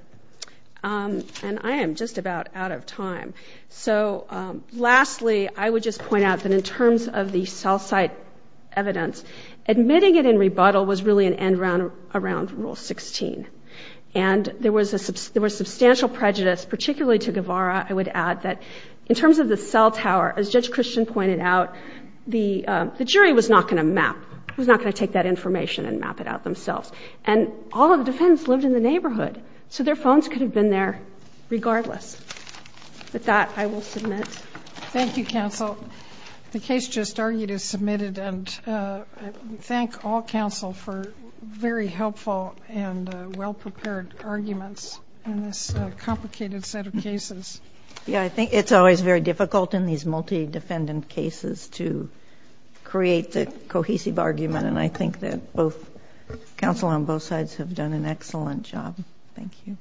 And I am just about out of time. So lastly, I would just point out that in terms of the cell site evidence, admitting it in rebuttal was really an end around Rule 16. And there was a – there was substantial prejudice, particularly to Guevara. I would add that in terms of the cell tower, as Judge Christian pointed out, the jury was not going to map – was not going to take that information and map it out themselves. And all of the defendants lived in the neighborhood. So their phones could have been there regardless. Thank you, counsel. Well, the case just argued is submitted. And we thank all counsel for very helpful and well-prepared arguments in this complicated set of cases. Yeah, I think it's always very difficult in these multi-defendant cases to create a cohesive argument. And I think that both – counsel on both sides have done an excellent job. Thank you.